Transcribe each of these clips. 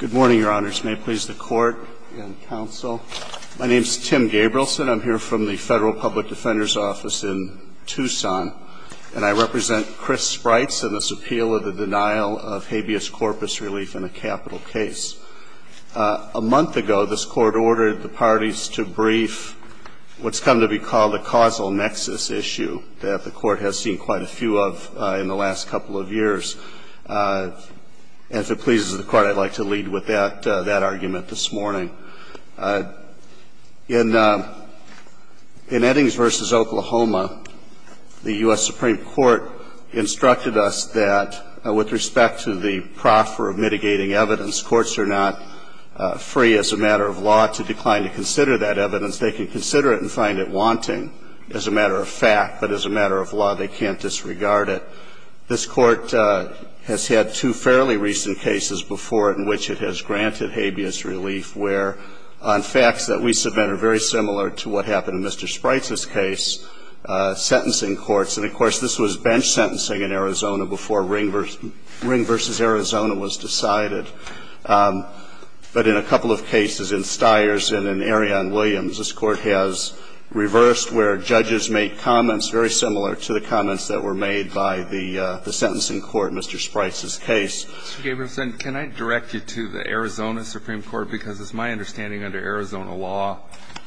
Good morning, Your Honors. May it please the Court and counsel. My name is Tim Gabrielson. I'm here from the Federal Public Defender's Office in Tucson, and I represent Chris Spreitz in this appeal of the denial of habeas corpus relief in a capital case. A month ago, this Court ordered the parties to brief what's come to be called a causal nexus issue that the Court has seen quite a few of in the last couple of years. And if it pleases the Court, I'd like to lead with that argument this morning. In Eddings v. Oklahoma, the U.S. Supreme Court instructed us that with respect to the proffer of mitigating evidence, courts are not free as a matter of law to decline to consider that evidence. They can consider it and find it wanting as a matter of fact, but as a matter of law, they can't disregard it. This Court has had two fairly recent cases before it in which it has granted habeas relief where on facts that we submit are very similar to what happened in Mr. Spreitz's case, sentencing courts, and, of course, this was bench sentencing in Arizona before Ring v. Arizona was decided. But in a couple of cases in Stiers and an area in Williams, this Court has reversed where judges make comments very similar to the comments that were made by the sentencing court in Mr. Spreitz's case. Mr. Gabrielson, can I direct you to the Arizona Supreme Court? Because it's my understanding under Arizona law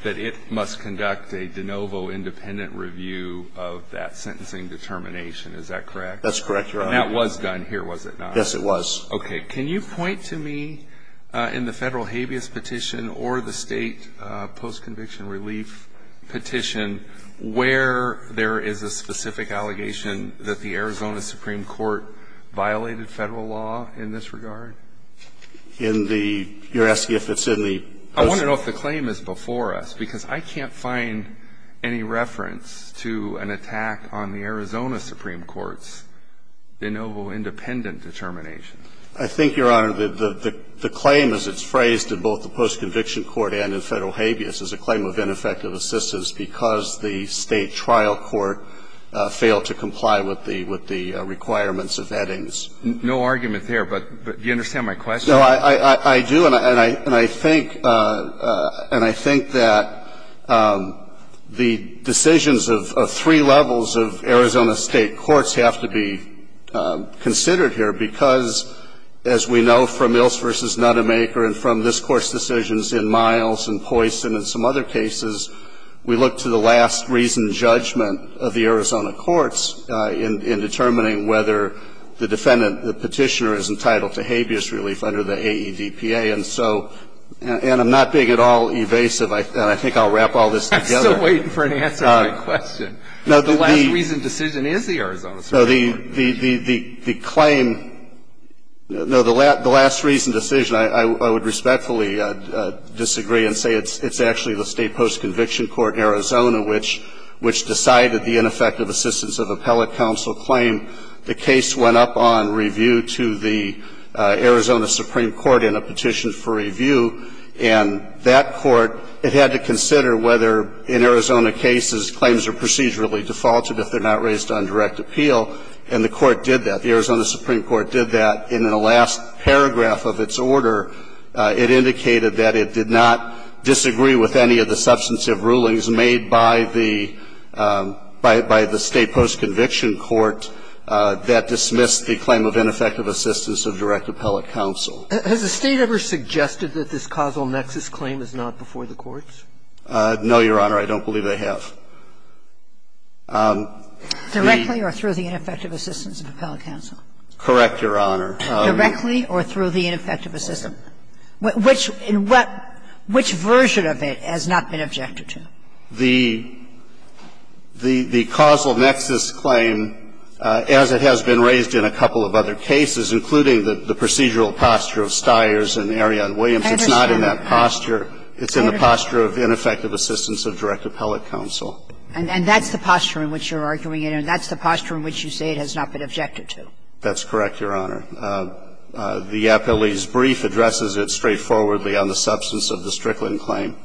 that it must conduct a de novo independent review of that sentencing determination. Is that correct? That's correct, Your Honor. And that was done here, was it not? Yes, it was. Okay. Can you point to me in the Federal habeas petition or the State post-conviction relief petition where there is a specific allegation that the Arizona Supreme Court violated Federal law in this regard? In the you're asking if it's in the post- I want to know if the claim is before us, because I can't find any reference to an attack on the Arizona Supreme Court's de novo independent determination. I think, Your Honor, the claim as it's phrased in both the post-conviction court and in Federal habeas is a claim of ineffective assistance because the State trial court failed to comply with the requirements of Eddings. No argument there. But do you understand my question? No, I do. And I think that the decisions of three levels of Arizona State courts have to be considered here because, as we know from Ilse v. Nutemaker and from this Court's decisions in Miles and Poison and some other cases, we look to the last reason judgment of the Arizona courts in determining whether the defendant, the petitioner, is entitled to habeas relief under the AEDPA. And so, and I'm not being at all evasive, and I think I'll wrap all this together. I'm still waiting for an answer to my question. No, the claim, no, the last reason decision, I would respectfully disagree and say it's actually the State post-conviction court, Arizona, which decided the ineffective assistance of appellate counsel claim. The case went up on review to the Arizona Supreme Court in a petition for review, and that court, it had to consider whether, in Arizona cases, claims are procedurally defaulted if they're not raised on direct appeal, and the court did that. The Arizona Supreme Court did that, and in the last paragraph of its order, it indicated that it did not disagree with any of the substantive rulings made by the State post-conviction court that dismissed the claim of ineffective assistance of direct appellate counsel. Has the State ever suggested that this causal nexus claim is not before the courts? No, Your Honor. I don't believe they have. Directly or through the ineffective assistance of appellate counsel? Correct, Your Honor. Directly or through the ineffective assistance? Which version of it has not been objected to? The causal nexus claim, as it has been raised in a couple of other cases, including the procedural posture of Stiers and Ariane Williams, it's not in that posture. It's in the posture of ineffective assistance of direct appellate counsel. And that's the posture in which you're arguing it, and that's the posture in which you say it has not been objected to? That's correct, Your Honor. The appellee's brief addresses it straightforwardly on the substance of the Strickland claim,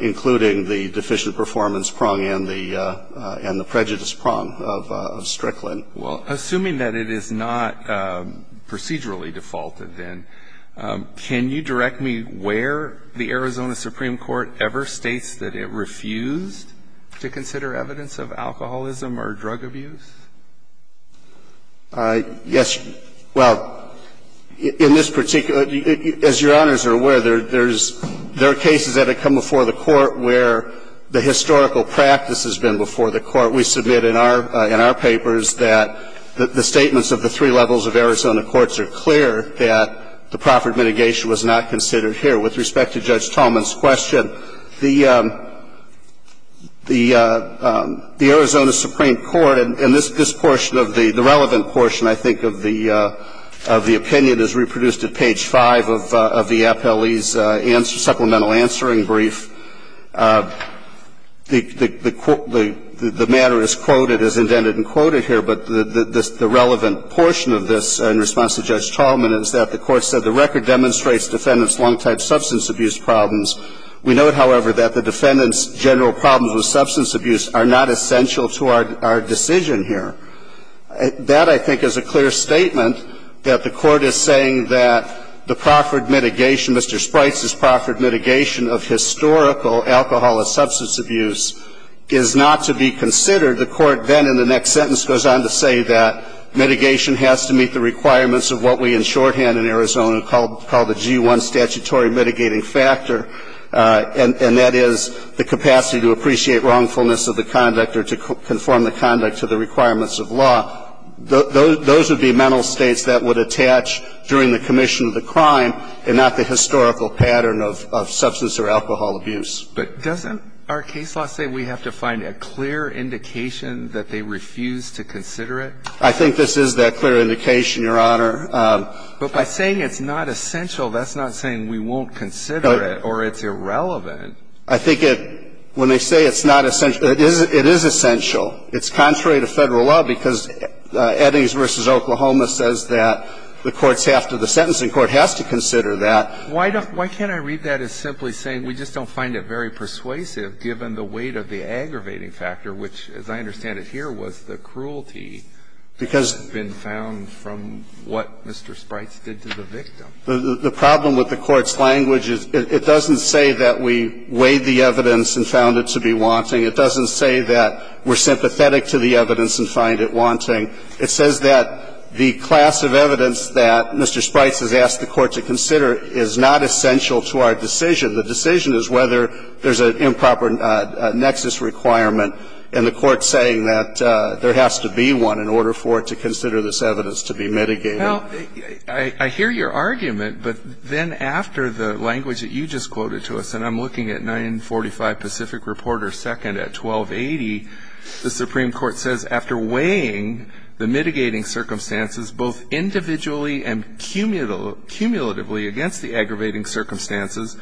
including the deficient performance prong and the prejudice prong of Strickland. Well, assuming that it is not procedurally defaulted, then, can you direct me where the Arizona Supreme Court ever states that it refused to consider evidence of alcoholism or drug abuse? Yes. Well, in this particular as Your Honors are aware, there are cases that have come before the Court where the historical practice has been before the Court. We submit in our papers that the statements of the three levels of Arizona courts are clear that the proffered mitigation was not considered here. With respect to Judge Tallman's question, the Arizona Supreme Court, and this portion of the relevant portion, I think, of the opinion is reproduced at page 5 of the appellee's supplemental answering brief. The matter is quoted as indented and quoted here, but the relevant portion of this in response to Judge Tallman is that the Court said the record demonstrates defendants' long-time substance abuse problems. We note, however, that the defendants' general problems with substance abuse are not essential to our decision here. That, I think, is a clear statement that the Court is saying that the proffered mitigation, Mr. Sprites' proffered mitigation of historical alcohol and substance abuse is not to be considered. The Court then in the next sentence goes on to say that mitigation has to meet the requirements of what we in shorthand in Arizona call the G-1 statutory mitigating factor, and that is the capacity to appreciate wrongfulness of the conduct or to conform the conduct to the requirements of law. Those would be mental states that would attach during the commission of the crime and not the historical pattern of substance or alcohol abuse. But doesn't our case law say we have to find a clear indication that they refuse to consider it? I think this is that clear indication, Your Honor. But by saying it's not essential, that's not saying we won't consider it or it's irrelevant. I think it, when they say it's not essential, it is essential. It's contrary to Federal law because Eddings v. Oklahoma says that the courts have to, the sentencing court has to consider that. Why don't, why can't I read that as simply saying we just don't find it very persuasive given the weight of the aggravating factor, which, as I understand it here, was the cruelty that had been found from what Mr. Sprites did to the victim? The problem with the Court's language is it doesn't say that we weighed the evidence and found it to be wanting. It doesn't say that we're sympathetic to the evidence and find it wanting. It says that the class of evidence that Mr. Sprites has asked the Court to consider is not essential to our decision. The decision is whether there's an improper nexus requirement, and the Court's saying that there has to be one in order for it to consider this evidence to be mitigated. Well, I hear your argument, but then after the language that you just quoted to us, and I'm looking at 945 Pacific Report or 2nd at 1280, the Supreme Court says after weighing the mitigating circumstances both individually and cumulatively against the aggravating circumstances,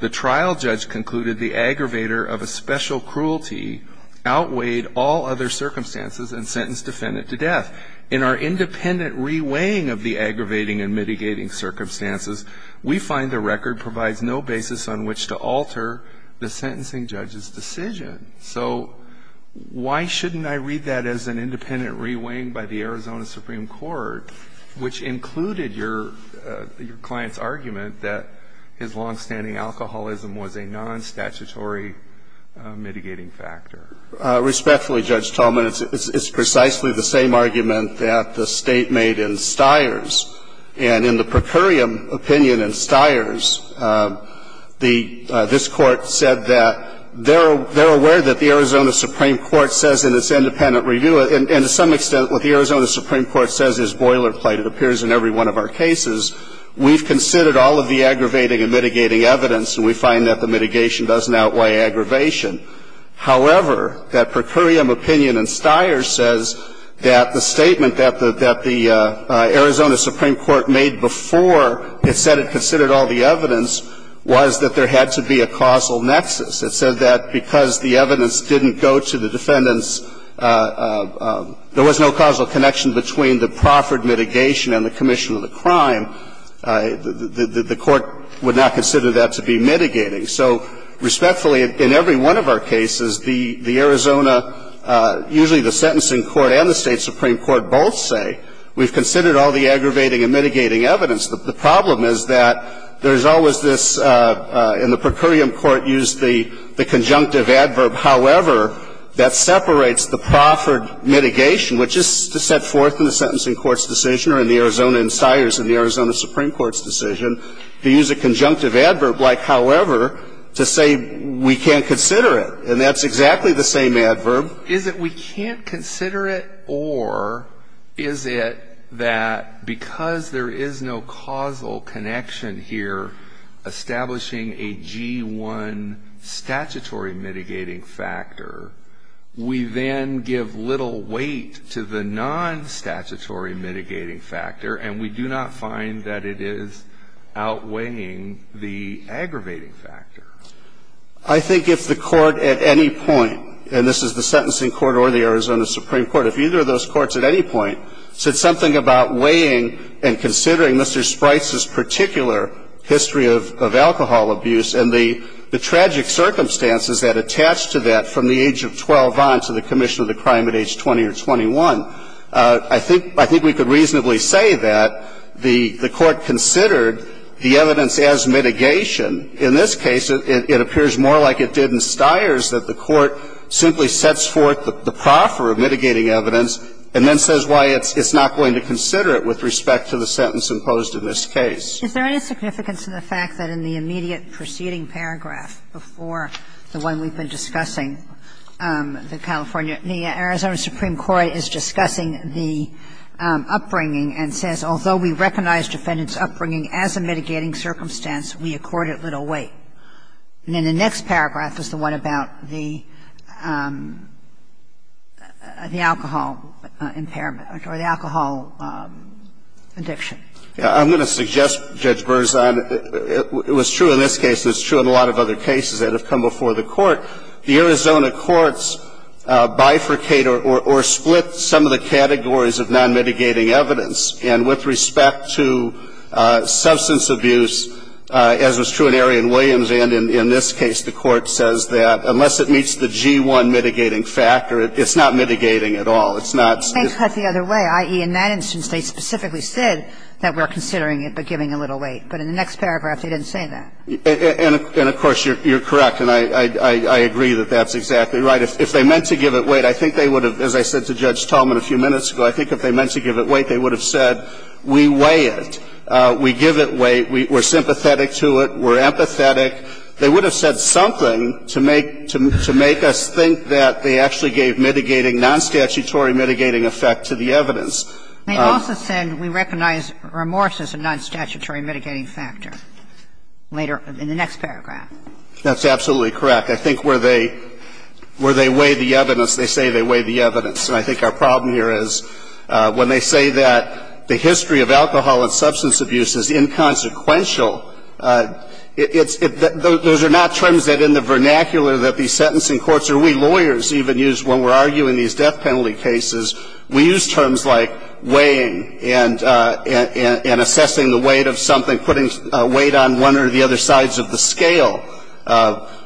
the trial judge concluded the aggravator of a special cruelty outweighed all other circumstances and sentenced defendant to death. In our independent re-weighing of the aggravating and mitigating circumstances, we find the record provides no basis on which to alter the sentencing judge's decision. So why shouldn't I read that as an independent re-weighing by the Arizona Supreme Court, which included your client's argument that his longstanding alcoholism was a nonstatutory mitigating factor? Respectfully, Judge Tolman, it's precisely the same argument that the State made in Steyer's. And in the procurium opinion in Steyer's, this Court said that there are ways in which I'm aware that the Arizona Supreme Court says in its independent review, and to some extent what the Arizona Supreme Court says is boilerplate. It appears in every one of our cases. We've considered all of the aggravating and mitigating evidence, and we find that the mitigation doesn't outweigh aggravation. However, that procurium opinion in Steyer's says that the statement that the Arizona Supreme Court made before it said it considered all the evidence was that there had to be a causal nexus. It said that because the evidence didn't go to the defendant's – there was no causal connection between the proffered mitigation and the commission of the crime, the Court would not consider that to be mitigating. So respectfully, in every one of our cases, the Arizona – usually the sentencing court and the State Supreme Court both say we've considered all the aggravating and mitigating evidence. The problem is that there's always this – and the procurium court used the conjunctive adverb, however, that separates the proffered mitigation, which is set forth in the sentencing court's decision or in the Arizona and Steyer's and the Arizona Supreme Court's decision to use a conjunctive adverb like however to say we can't consider And that's exactly the same adverb. So is it we can't consider it or is it that because there is no causal connection here establishing a G1 statutory mitigating factor, we then give little weight to the non-statutory mitigating factor and we do not find that it is outweighing the aggravating factor? I think if the court at any point, and this is the sentencing court or the Arizona Supreme Court, if either of those courts at any point said something about weighing and considering Mr. Spryce's particular history of alcohol abuse and the tragic circumstances that attach to that from the age of 12 on to the commission of the crime at age 20 or 21, I think – I think we could reasonably say that the court considered the evidence as mitigation. In this case, it appears more like it did in Steyer's that the court simply sets forth the proffer of mitigating evidence and then says why it's not going to consider it with respect to the sentence imposed in this case. Is there any significance to the fact that in the immediate preceding paragraph before the one we've been discussing, the California – the Arizona Supreme Court is discussing the upbringing and says, although we recognize defendant's upbringing as a mitigating circumstance, we accord it little weight. And in the next paragraph is the one about the alcohol impairment or the alcohol addiction. I'm going to suggest, Judge Bernstein, it was true in this case and it's true in a lot of other cases that have come before the court, the Arizona courts bifurcate or split some of the categories of non-mitigating evidence. And with respect to substance abuse, as was true in Arian Williams and in this case, the court says that unless it meets the G1 mitigating factor, it's not mitigating at all. It's not – They put it the other way, i.e., in that instance, they specifically said that we're considering it but giving a little weight. But in the next paragraph, they didn't say that. And of course, you're correct, and I agree that that's exactly right. If they meant to give it weight, I think they would have, as I said to Judge Tallman a few minutes ago, I think if they meant to give it weight, they would have said we weigh it, we give it weight, we're sympathetic to it, we're empathetic. They would have said something to make – to make us think that they actually gave mitigating, non-statutory mitigating effect to the evidence. They also said we recognize remorse as a non-statutory mitigating factor later in the next paragraph. That's absolutely correct. I think where they – where they weigh the evidence, they say they weigh the evidence. And I think our problem here is when they say that the history of alcohol and substance abuse is inconsequential, it's – those are not terms that in the vernacular that these sentencing courts or we lawyers even use when we're arguing these death penalty cases. We use terms like weighing and assessing the weight of something, putting weight on one or the other sides of the scale.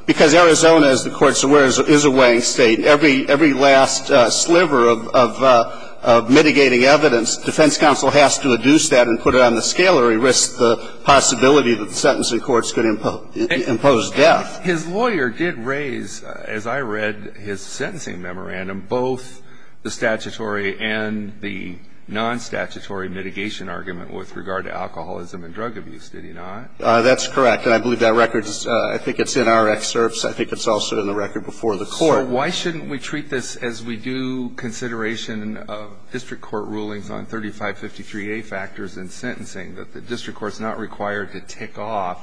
Because Arizona, as the Court's aware, is a weighing State. Every last sliver of mitigating evidence, defense counsel has to adduce that and put it on the scale or he risks the possibility that the sentencing courts could impose death. His lawyer did raise, as I read his sentencing memorandum, both the statutory and the non-statutory mitigation argument with regard to alcoholism and drug abuse, did he not? That's correct. And I believe that record is – I think it's in our excerpts. I think it's also in the record before the Court. So why shouldn't we treat this as we do consideration of district court rulings on 3553A factors in sentencing, that the district court's not required to tick off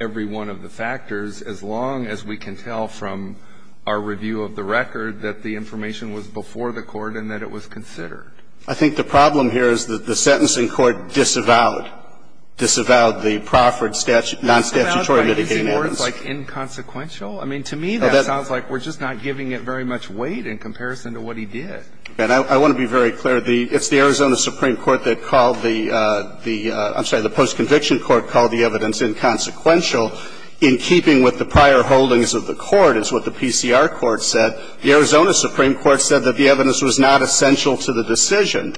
every one of the factors as long as we can tell from our review of the record that the information was before the Court and that it was considered? I think the problem here is that the sentencing court disavowed – disavowed the proffered non-statutory mitigation evidence. But is he more, like, inconsequential? I mean, to me, that sounds like we're just not giving it very much weight in comparison to what he did. I want to be very clear. It's the Arizona Supreme Court that called the – I'm sorry, the post-conviction court called the evidence inconsequential in keeping with the prior holdings of the court, is what the PCR court said. The Arizona Supreme Court said that the evidence was not essential to the decision.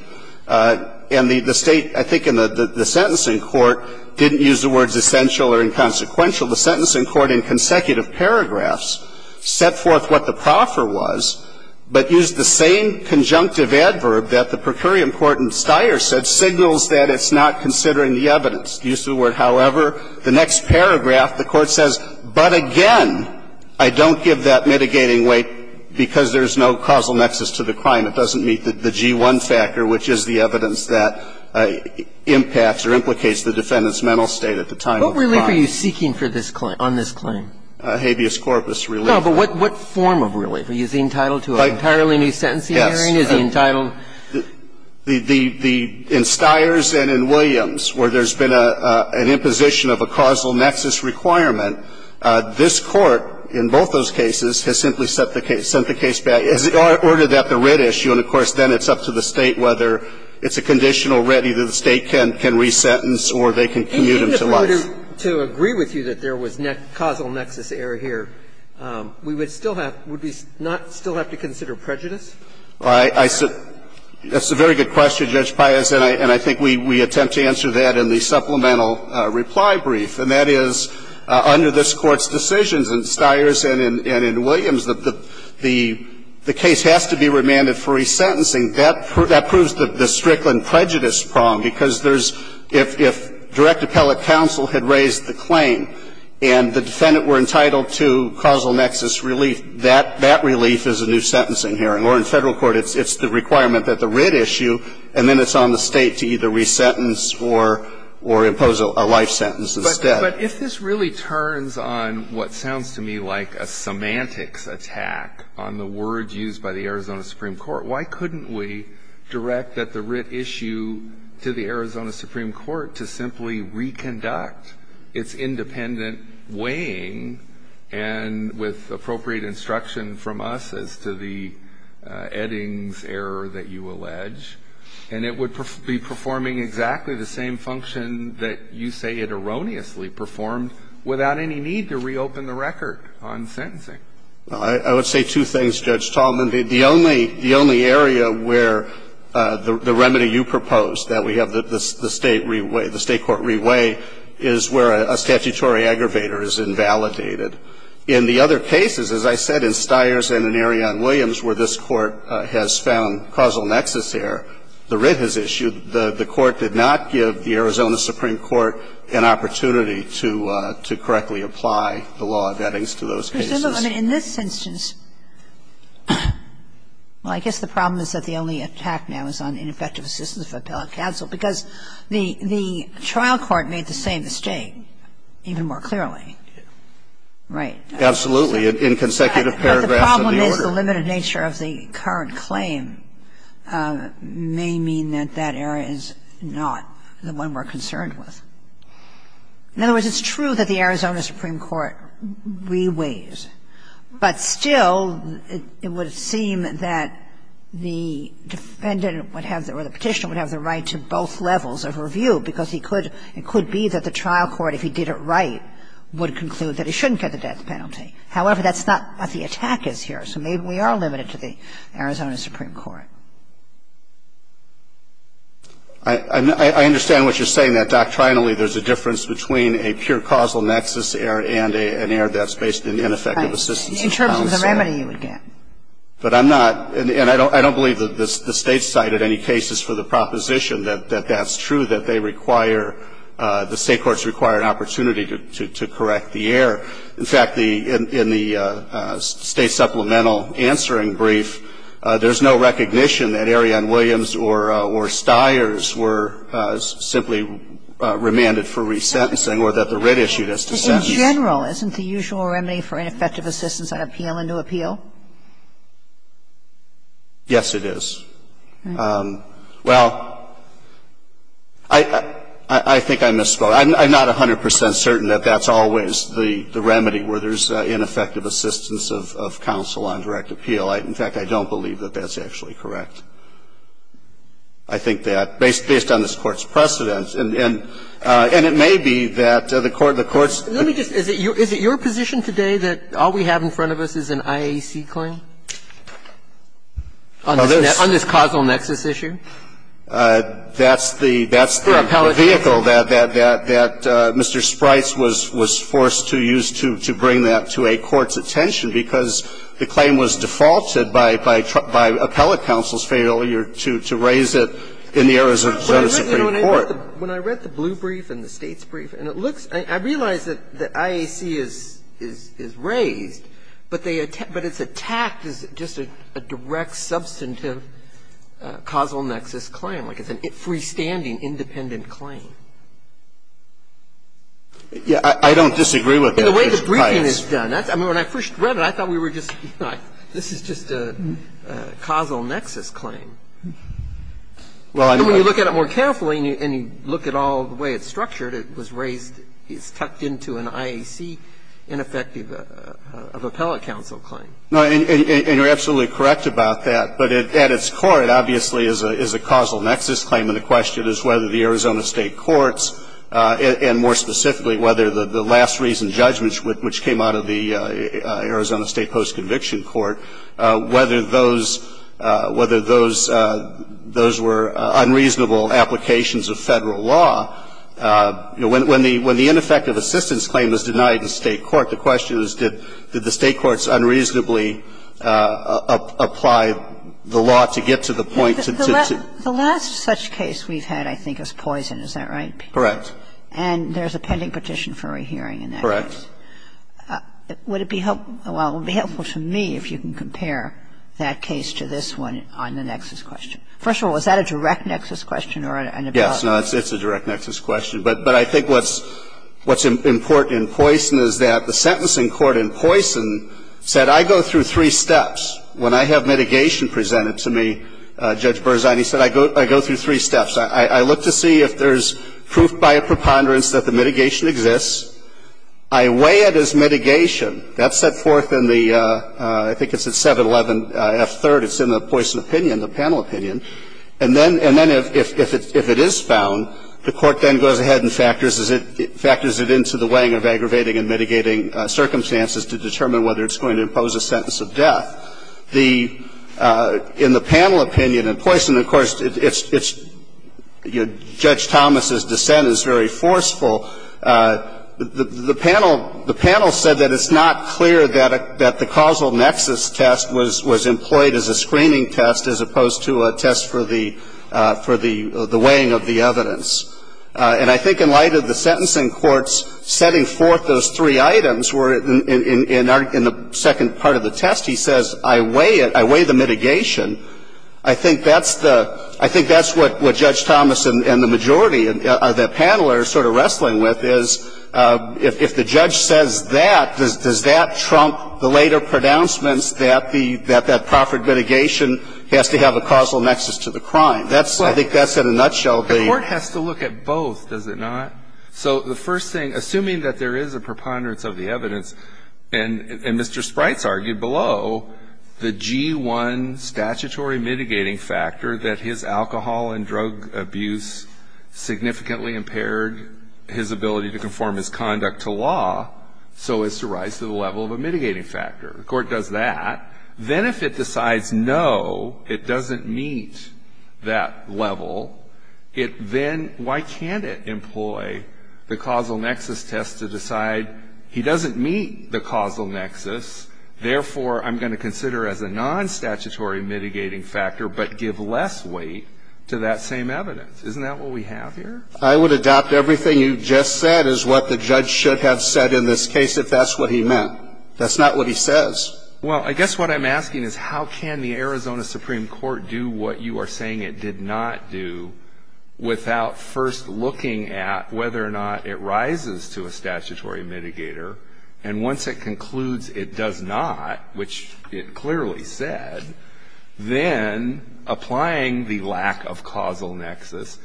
And the State, I think in the sentencing court, didn't use the words essential or inconsequential. The sentencing court, in consecutive paragraphs, set forth what the proffer was, but used the same conjunctive adverb that the per curiam court in Steyer said, signals that it's not considering the evidence. Used the word, however. The next paragraph, the court says, but again, I don't give that mitigating weight because there's no causal nexus to the crime. It doesn't meet the G1 factor, which is the evidence that impacts or implicates the defendant's mental state at the time of the crime. What relief are you seeking for this claim, on this claim? Habeas corpus relief. No, but what form of relief? Is he entitled to an entirely new sentencing hearing? Yes. Is he entitled? In Steyer's and in Williams, where there's been an imposition of a causal nexus requirement, this Court, in both those cases, has simply sent the case back. Has it ordered that the writ issue, and of course, then it's up to the State whether it's a conditional writ either the State can resentence or they can commute him to life. And even if we were to agree with you that there was causal nexus error here, we would still have to consider prejudice? That's a very good question, Judge Pius, and I think we attempt to answer that in the supplemental reply brief, and that is, under this Court's decisions in Steyer's and in Williams, the case has to be remanded for resentencing. That proves the Strickland prejudice prong. Because there's – if direct appellate counsel had raised the claim and the defendant were entitled to causal nexus relief, that relief is a new sentencing hearing. Or in Federal court, it's the requirement that the writ issue and then it's on the State to either resentence or impose a life sentence instead. But if this really turns on what sounds to me like a semantics attack on the words used by the Arizona Supreme Court, why couldn't we direct that the writ issue to the Arizona Supreme Court to simply reconduct its independent weighing and with appropriate instruction from us as to the Eddings error that you allege, and it would be performing exactly the same function that you say it erroneously performed without any need to reopen the record on sentencing? Well, I would say two things, Judge Tallman. The only area where the remedy you propose, that we have the State re-weigh, the State court re-weigh, is where a statutory aggravator is invalidated. In the other cases, as I said, in Steyer's and in Williams, where this Court has found a causal nexus here, the writ has issued, the Court did not give the Arizona Supreme Court an opportunity to correctly apply the law of Eddings to those cases. I mean, in this instance, well, I guess the problem is that the only attack now is on ineffective assistance for appellate counsel, because the trial court made the same mistake even more clearly, right? Absolutely. In consecutive paragraphs of the order. The limited nature of the current claim may mean that that error is not the one we're concerned with. In other words, it's true that the Arizona Supreme Court re-weighs, but still it would seem that the defendant would have, or the Petitioner would have the right to both levels of review, because he could be that the trial court, if he did it right, would conclude that he shouldn't get the death penalty. However, that's not what the attack is here. So maybe we are limited to the Arizona Supreme Court. I understand what you're saying, that doctrinally there's a difference between a pure causal nexus error and an error that's based on ineffective assistance for counsel. Right. In terms of the remedy you would get. But I'm not, and I don't believe that the State cited any cases for the proposition that that's true, that they require, the State courts require an opportunity to correct the error. In fact, the, in the State supplemental answering brief, there's no recognition that Arianne Williams or Stiers were simply remanded for resentencing or that the writ issued as to sentencing. But in general, isn't the usual remedy for ineffective assistance an appeal and new appeal? Yes, it is. Well, I think I misspoke. I'm not 100 percent certain that that's always the remedy, where there's ineffective assistance of counsel on direct appeal. In fact, I don't believe that that's actually correct. I think that, based on this Court's precedents, and it may be that the Court, the Court's Let me just, is it your position today that all we have in front of us is an IAC claim on this causal nexus issue? That's the, that's the vehicle that, that Mr. Sprites was, was forced to use to, to bring that to a court's attention, because the claim was defaulted by, by appellate counsel's failure to, to raise it in the areas of the Supreme Court. When I read the blue brief and the State's brief, and it looks, I realize that the IAC is, is, is raised, but they, but it's attacked as just a direct substantive causal nexus claim, like it's a freestanding, independent claim. Yeah, I, I don't disagree with that, Mr. Sprites. The way the briefing is done, that's, I mean, when I first read it, I thought we were just, you know, this is just a causal nexus claim. Well, I mean, I And when you look at it more carefully, and you, and you look at all the way it's structured, it was raised, it's tucked into an IAC ineffective, of appellate counsel claim. No, and, and, and you're absolutely correct about that. But at, at its core, it obviously is a, is a causal nexus claim. And the question is whether the Arizona State courts, and, and more specifically, whether the, the last reason judgments, which, which came out of the Arizona State post-conviction court, whether those, whether those, those were unreasonable applications of Federal law. You know, when, when the, when the ineffective assistance claim was denied in State court, the question is, did, did the State courts unreasonably apply the law to get to the point to, to, to The last, the last such case we've had, I think, is Poison. Is that right? Correct. And there's a pending petition for a hearing in that case. Correct. Would it be helpful, well, it would be helpful to me if you can compare that case to this one on the nexus question. First of all, is that a direct nexus question or an Yes. No, it's, it's a direct nexus question. But, but I think what's, what's important in Poison is that the sentencing court in Poison said, I go through three steps. When I have mitigation presented to me, Judge Berzani said, I go, I go through three steps. I, I look to see if there's proof by a preponderance that the mitigation exists. I weigh it as mitigation. That's set forth in the, I think it's at 711F3rd. It's in the Poison opinion, the panel opinion. And then, and then if, if it, if it is found, the court then goes ahead and factors it, factors it into the weighing of aggravating and mitigating circumstances to determine whether it's going to impose a sentence of death. The, in the panel opinion in Poison, of course, it's, it's, you know, Judge Thomas's dissent is very forceful. The, the panel, the panel said that it's not clear that, that the causal nexus test was, was employed as a screening test as opposed to a test for the, for the, the weighing of the evidence. And I think in light of the sentencing court's setting forth those three items were in, in, in, in the second part of the test, he says, I weigh it, I weigh the mitigation. I think that's the, I think that's what, what Judge Thomas and, and the majority of the panel are sort of wrestling with is, if, if the judge says that, does, does that trump the later pronouncements that the, that, that proffered mitigation has to have a causal nexus to the crime? That's, I think that's in a nutshell the. The court has to look at both, does it not? So the first thing, assuming that there is a preponderance of the evidence, and, and Mr. Sprites argued below, the G-1 statutory mitigating factor that his alcohol and drug abuse significantly impaired his ability to conform his conduct to law, so as to rise to the level of a mitigating factor. The court does that. Then if it decides, no, it doesn't meet that level, it then, why can't it employ the causal nexus test to decide, he doesn't meet the causal nexus, therefore, I'm going to consider as a nonstatutory mitigating factor, but give less weight to that same evidence. Isn't that what we have here? I would adopt everything you just said as what the judge should have said in this case, if that's what he meant. That's not what he says. Well, I guess what I'm asking is how can the Arizona Supreme Court do what you are saying it did not do without first looking at whether or not it rises to a statutory mitigator, and once it concludes it does not, which it clearly said, then applying the lack of causal nexus,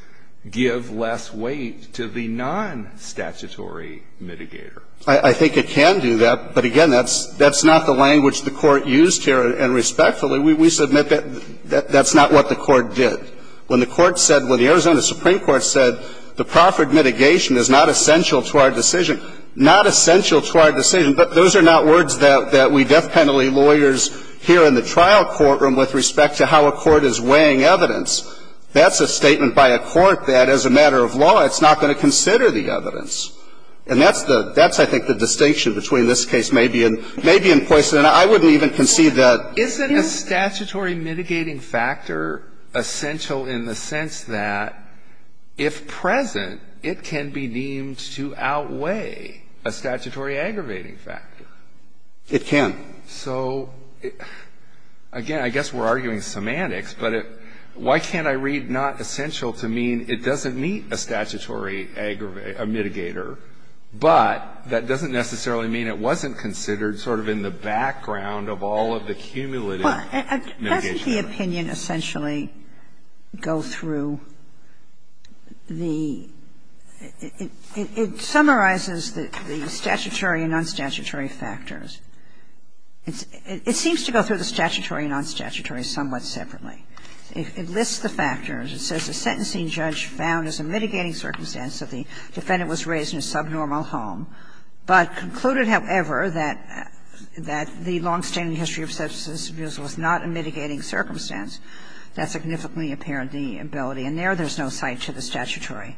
give less weight to the nonstatutory mitigator. I think it can do that, but again, that's not the language the court used here, and respectfully, we submit that that's not what the court did. When the court said, when the Arizona Supreme Court said, the proffered mitigation is not essential to our decision, not essential to our decision, but those are not words that we death penalty lawyers hear in the trial courtroom with respect to how a court is weighing evidence, that's a statement by a court that, as a matter of law, it's not going to consider the evidence. And that's the – that's, I think, the distinction between this case, maybe, and maybe in Poison, and I wouldn't even concede that. Isn't a statutory mitigating factor essential in the sense that, if present, it can be deemed to outweigh a statutory aggravating factor? It can. So, again, I guess we're arguing semantics, but why can't I read not essential to mean it doesn't meet a statutory aggravating – a mitigator, but that doesn't necessarily mean it wasn't considered sort of in the background of all of the cumulative mitigation factors? Sotomayor, it summarizes the statutory and nonstatutory factors. It seems to go through the statutory and nonstatutory somewhat separately. It lists the factors. It says, A sentencing judge found as a mitigating circumstance that the defendant was raised in a subnormal home, but concluded, however, that the longstanding history of substance abuse was not a mitigating circumstance. That significantly impaired the ability. And there, there's no cite to the statutory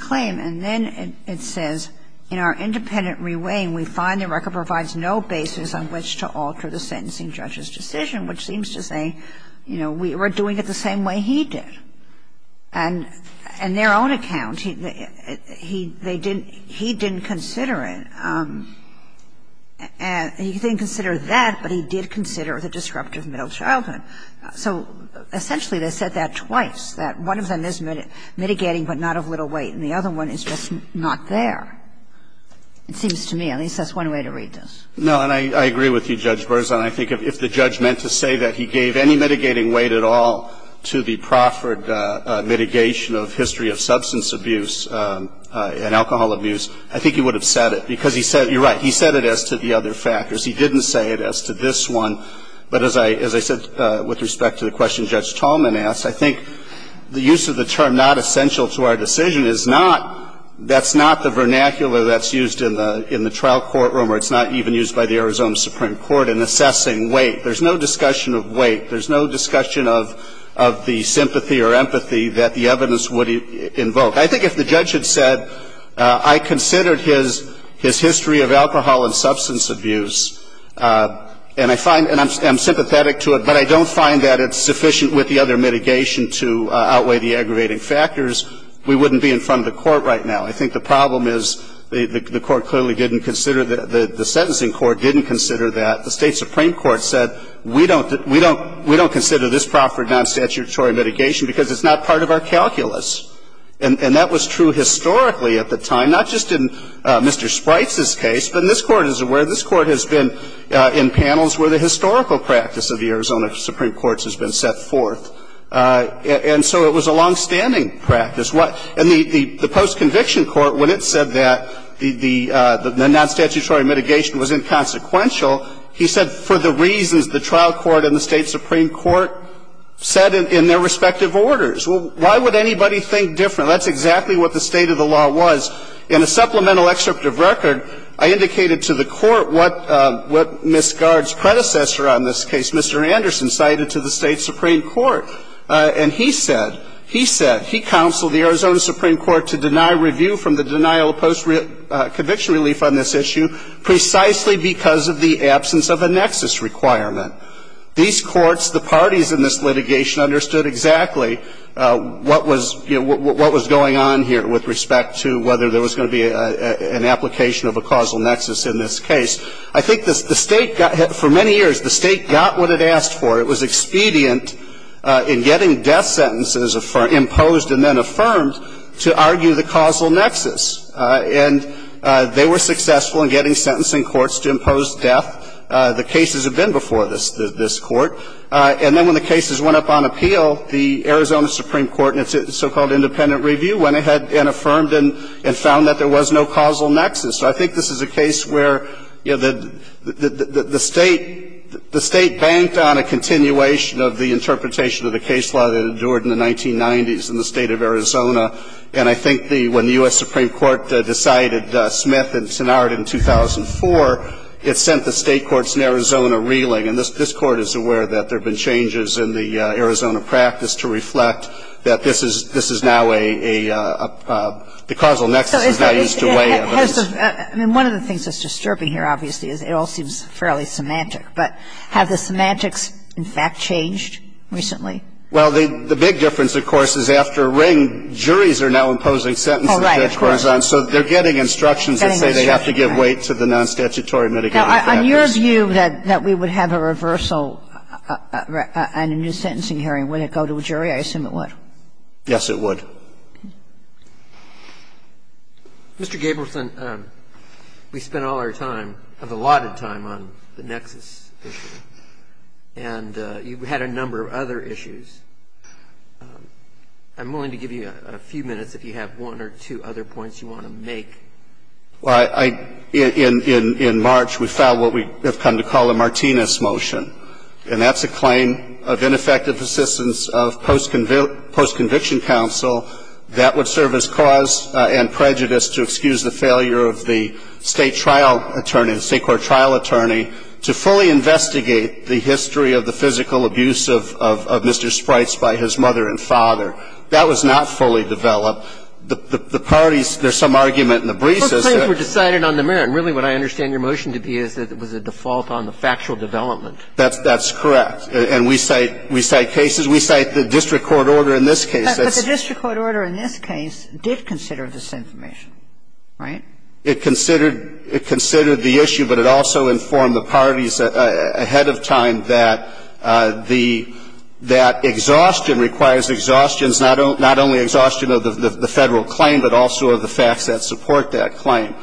claim. And then it says, In our independent re-weighing, we find the record provides no basis on which to alter the sentencing judge's decision, which seems to say, you know, we're doing it the same way he did. And in their own account, he didn't consider it. He didn't consider that, but he did consider the disruptive middle childhood. So essentially, they said that twice, that one of them is mitigating but not of little weight, and the other one is just not there. It seems to me, at least that's one way to read this. No, and I agree with you, Judge Berzon. I think if the judge meant to say that he gave any mitigating weight at all to the proffered mitigation of history of substance abuse and alcohol abuse, I think he would have said it, because he said you're right, he said it as to the other factors. He didn't say it as to this one, but as I said with respect to the question that Judge Tallman asked, I think the use of the term not essential to our decision is not, that's not the vernacular that's used in the trial courtroom, or it's not even used by the Arizona Supreme Court in assessing weight. There's no discussion of weight. There's no discussion of the sympathy or empathy that the evidence would invoke. I think if the judge had said, I considered his history of alcohol and substance abuse, and I find, and I'm sympathetic to it, but I don't find that it's sufficient with the other mitigation to outweigh the aggravating factors, we wouldn't be in front of the court right now. I think the problem is the court clearly didn't consider, the sentencing court didn't consider that. The State Supreme Court said, we don't consider this proffered non-statutory mitigation because it's not part of our calculus, and that was true historically at the time, not just in Mr. Spritz's case, but this Court is aware, this Court has been in panels where the historical practice of the Arizona Supreme Court has been set forth. And so it was a longstanding practice. And the post-conviction court, when it said that the non-statutory mitigation was inconsequential, he said, for the reasons the trial court and the State Supreme Court said in their respective orders. Well, why would anybody think different? Now, that's exactly what the state of the law was. In a supplemental excerpt of record, I indicated to the Court what Ms. Gard's predecessor on this case, Mr. Anderson, cited to the State Supreme Court. And he said, he said, he counseled the Arizona Supreme Court to deny review from the denial of post-conviction relief on this issue precisely because of the absence of a nexus requirement. These courts, the parties in this litigation understood exactly what was, you know, what was going on here with respect to whether there was going to be an application of a causal nexus in this case. I think the State got, for many years, the State got what it asked for. It was expedient in getting death sentences imposed and then affirmed to argue the causal nexus. And they were successful in getting sentencing courts to impose death. The cases have been before this Court. And then when the cases went up on appeal, the Arizona Supreme Court and its so-called independent review went ahead and affirmed and found that there was no causal nexus. So I think this is a case where, you know, the State, the State banked on a continuation of the interpretation of the case law that endured in the 1990s in the state of Arizona. And I think the, when the U.S. Supreme Court decided Smith and Sinard in 2004, it sent the state courts in Arizona reeling. And this Court is aware that there have been changes in the Arizona practice to reflect that this is, this is now a, a, a, a, the causal nexus is now used to weigh evidence. And one of the things that's disturbing here, obviously, is it all seems fairly semantic, but have the semantics, in fact, changed recently? Well, the big difference, of course, is after Ring, juries are now imposing sentences in Arizona, so they're getting instructions that say they have to give weight to the non-statutory mitigating factors. Now, on your view that we would have a reversal on a new sentencing hearing, wouldn't it go to a jury? I assume it would. Yes, it would. Mr. Gabelson, we spent all our time, allotted time on the nexus issue, and you had a number of other issues. I'm willing to give you a few minutes if you have one or two other points you want to make. Well, I, I, in, in, in March, we filed what we have come to call a Martinez Motion, and that's a claim of ineffective assistance of post-convict, post-conviction counsel that would serve as cause and prejudice to excuse the failure of the State trial attorney, the State court trial attorney, to fully investigate the history of the physical abuse of, of, of Mr. Sprites by his mother and father. That was not fully developed. The, the parties, there's some argument in the briefs as to that. And then it's just, you know, it's different on the merit. Really, what I understand your motion to be is that it was a default on the factual development. That's, that's correct. And, and we cite, we cite cases, we cite the district court order in this case. That's... But the district court order in this case did consider this information, right? It considered, it considered the issue, but it also informed the parties that, ahead of time that, that exhaustion requires exhaustions, not only, not only exhaustion of the federal claim, but also of the facts that support that claim.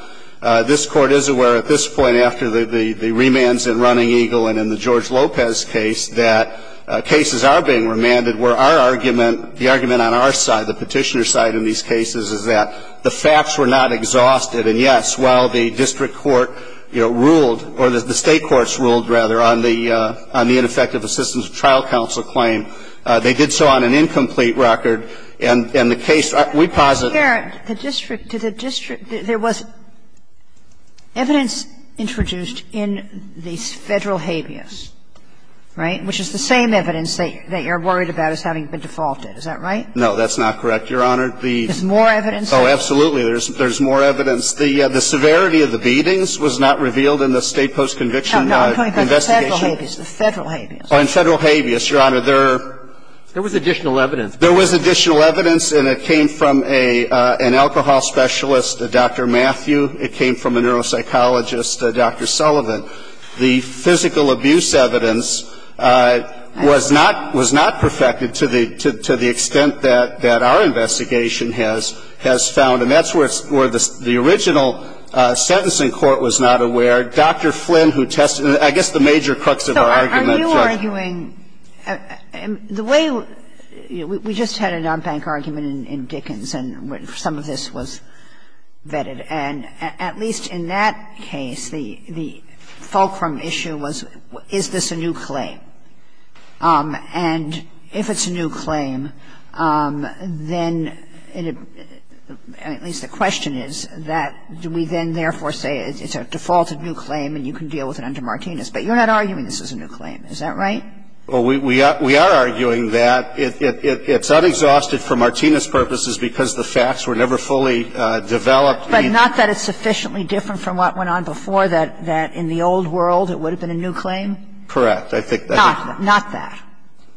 This court is aware at this point, after the, the remands in Running Eagle and in the George Lopez case, that cases are being remanded where our argument, the argument on our side, the petitioner side in these cases, is that the facts were not exhausted. And yes, while the district court, you know, ruled, or the state courts ruled rather, on the, on the ineffective assistance of trial counsel claim, they did so on an incomplete record. And, and the case, we posit... Sotomayor, the district, to the district, there was evidence introduced in the federal habeas, right? Which is the same evidence that you're worried about as having been defaulted. Is that right? No, that's not correct, Your Honor. The... There's more evidence? Oh, absolutely. There's more evidence. The, the severity of the beatings was not revealed in the state post-conviction investigation. No, no, I'm talking about the federal habeas. The federal habeas. Oh, the federal habeas. Your Honor, there are... There was additional evidence. There was additional evidence, and it came from a, an alcohol specialist, Dr. Matthew. It came from a neuropsychologist, Dr. Sullivan. The physical abuse evidence was not, was not perfected to the, to, to the extent that, that our investigation has, has found. And that's where it's, where the, the original sentencing court was not aware. Dr. Flynn, who tested, I guess the major crux of our argument... I'm not arguing... The way we just had a non-bank argument in Dickens, and some of this was vetted, and at least in that case, the, the fulcrum issue was, is this a new claim? And if it's a new claim, then, at least the question is that do we then therefore say it's a defaulted new claim and you can deal with it under Martinez? But you're not arguing this is a new claim, is that right? Well, we, we are, we are arguing that it, it, it, it's unexhausted for Martinez' purposes because the facts were never fully developed. But not that it's sufficiently different from what went on before, that, that in the old world, it would have been a new claim? Correct. I think that... Not, not that.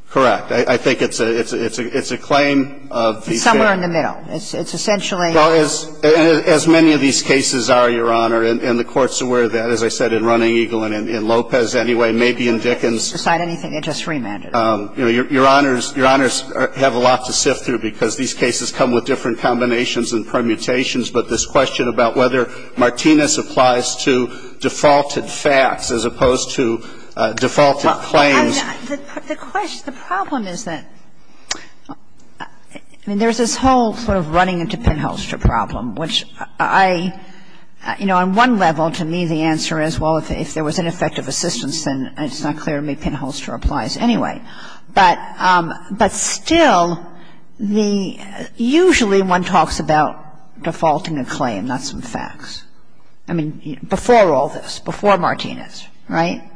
Correct. I, I think it's a, it's a, it's a, it's a claim of the... Somewhere in the middle. It's, it's essentially... Well, as, as many of these cases are, Your Honor, and, and the Court's aware of that. As I said, in Running Eagle and in, in Lopez, anyway, maybe in Dickens... Besides anything they just remanded. Your, Your Honor's, Your Honor's have a lot to sift through because these cases come with different combinations and permutations, but this question about whether Martinez applies to defaulted facts as opposed to defaulted claims... Well, I, I, the, the question, the problem is that, I mean, there's this whole sort of running into pinholster problem, which I, you know, on one level, to me, the answer is, well, if, if there was ineffective assistance, then it's not clear to me pinholster applies anyway. But, but still, the, usually one talks about defaulting a claim, not some facts. I mean, before all this, before Martinez, right?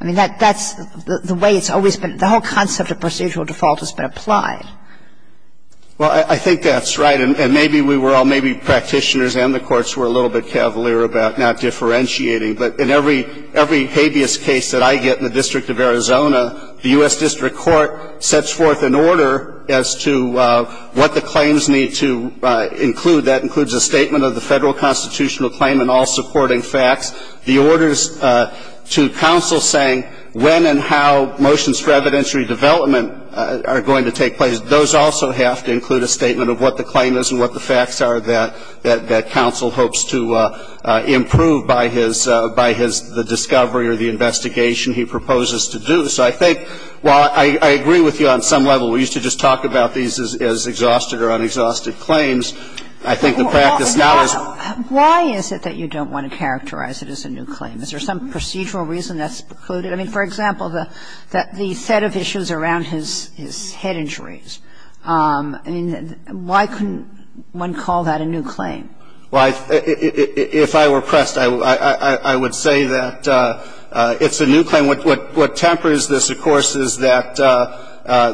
I mean, that, that's the, the way it's always been. The whole concept of procedural default has been applied. Well, I, I think that's right, and, and maybe we were all, maybe practitioners and the courts were a little bit cavalier about not differentiating. But in every, every habeas case that I get in the District of Arizona, the U.S. District Court sets forth an order as to what the claims need to include. That includes a statement of the federal constitutional claim and all supporting facts, the orders to counsel saying when and how motions for evidentiary development are going to take place. Those also have to include a statement of what the claim is and what the facts are that, that, that counsel hopes to improve by his, by his, the discovery or the investigation he proposes to do. So I think, while I, I agree with you on some level, we used to just talk about these as, as exhausted or unexhausted claims. I think the practice now is why is it that you don't want to characterize it as a new claim? Is there some procedural reason that's precluded? I mean, for example, the, the set of issues around his, his head injuries. I mean, why couldn't one call that a new claim? Well, I, if I were pressed, I, I would say that it's a new claim. What, what, what tempers this, of course, is that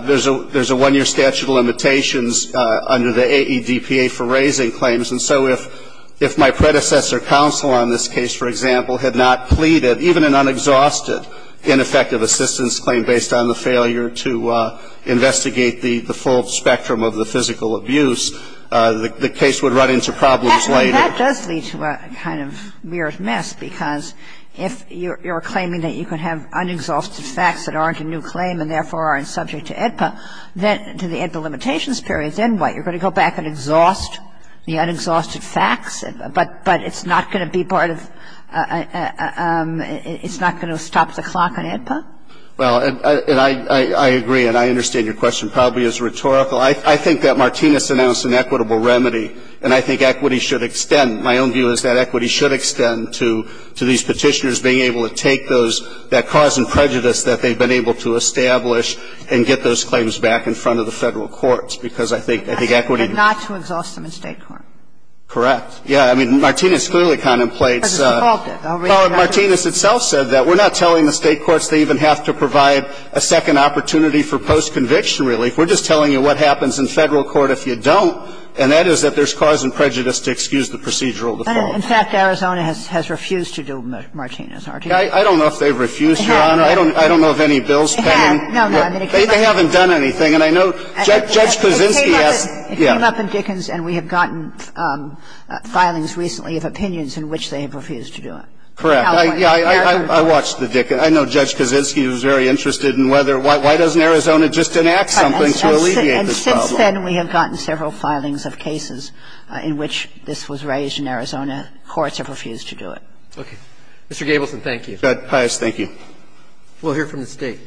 there's a, there's a one-year statute of limitations under the AEDPA for raising claims. And so if, if my predecessor counsel on this case, for example, had not pleaded even an unexhausted ineffective assistance claim based on the failure to investigate the, the full spectrum of the physical abuse, the, the case would run into problems later. That does lead to a kind of mirrored mess, because if you're, you're claiming that you can have unexhausted facts that aren't a new claim and therefore aren't subject to AEDPA, then to the AEDPA limitations period, then what? You're going to go back and exhaust the unexhausted facts, but, but it's not going to be part of, it's not going to stop the clock on AEDPA? Well, and, and I, I, I agree, and I understand your question probably is rhetorical. I, I think that Martinez announced an equitable remedy, and I think equity should extend. My own view is that equity should extend to, to these Petitioners being able to take those, that cause and prejudice that they've been able to establish and get those claims back in front of the Federal courts, because I think, I think equity. Not to exhaust them in State court. Correct. Yeah. But it's a fault of it. I'll read it out. Well, Martinez itself said that. We're not telling the State courts they even have to provide a second opportunity for post-conviction relief. We're just telling you what happens in Federal court if you don't, and that is that there's cause and prejudice to excuse the procedural default. I mean, in fact, Arizona has, has refused to do Martinez, hasn't it? I, I don't know if they've refused, Your Honor. I don't, I don't know of any bills pending. It hasn't. No, no. I mean, it came up in — They haven't done anything, and I know Judge Kuzinski asks — It came up in Dickens, and we have gotten filings recently of opinions in which they have refused to do it. Correct. I, yeah, I, I watched the Dickens. I know Judge Kuzinski was very interested in whether, why, why doesn't Arizona just enact something to alleviate this problem? And since then, we have gotten several filings of cases in which this was raised in Arizona. Courts have refused to do it. Okay. Mr. Gabelson, thank you. Pius, thank you. We'll hear from the State.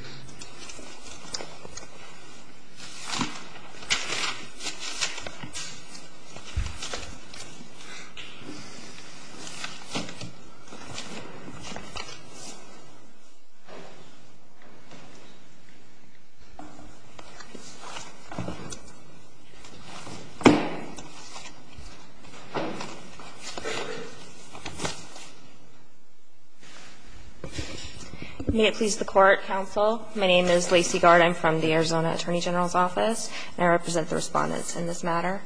May it please the Court, counsel. My name is Lacy Gard. I'm from the Arizona Attorney General's Office, and I represent the respondents in this matter.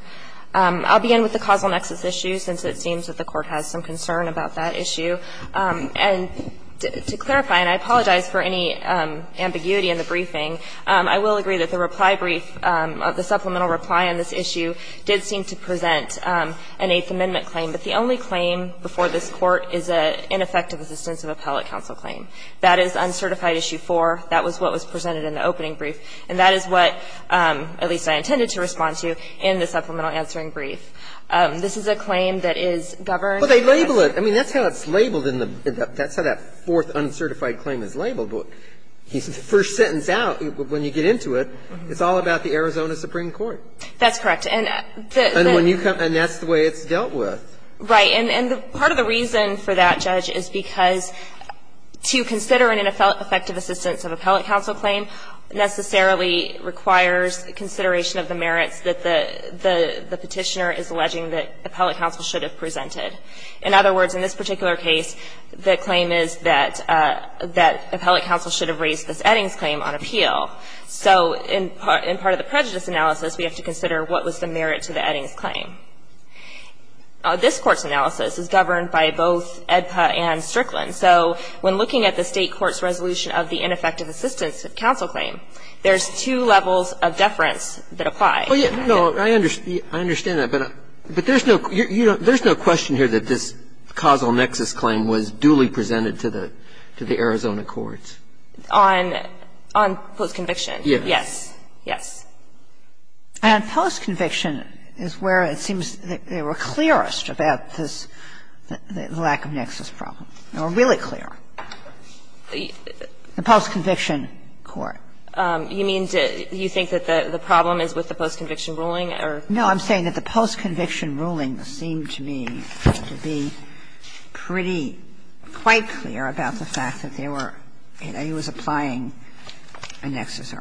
I'll begin with the causal nexus issue, since it seems that the Court has some concern about that issue. And to clarify, and I apologize for any ambiguity in the briefing, I will agree that the reply brief, the supplemental reply on this issue did seem to present an Eighth Amendment claim. But the only claim before this Court is an ineffective assistance of appellate counsel claim. That is Uncertified Issue 4. That was what was presented in the opening brief. And that is what, at least, I intended to respond to in the supplemental answering brief. This is a claim that is governed by the State. Well, they label it. I mean, that's how it's labeled in the – that's how that fourth uncertified claim is labeled. The first sentence out, when you get into it, it's all about the Arizona Supreme Court. That's correct. And the – And when you come – and that's the way it's dealt with. Right. And part of the reason for that, Judge, is because to consider an ineffective assistance of appellate counsel claim necessarily requires consideration of the merits that the petitioner is alleging that appellate counsel should have presented. In other words, in this particular case, the claim is that appellate counsel should have raised this Eddings claim on appeal. So in part of the prejudice analysis, we have to consider what was the merit to the Eddings claim. This Court's analysis is governed by both AEDPA and Strickland. So when looking at the State court's resolution of the ineffective assistance of counsel claim, there's two levels of deference that apply. Well, yeah. No, I understand that. But there's no – there's no question here that this causal nexus claim was duly presented to the Arizona courts. On post-conviction. Yes. Yes. Yes. And post-conviction is where it seems they were clearest about this – the lack of nexus problem. They were really clear. The post-conviction court. You mean to – you think that the problem is with the post-conviction ruling, or? No. I'm saying that the post-conviction ruling seemed to me to be pretty quite clear about the fact that they were – it was applying a nexus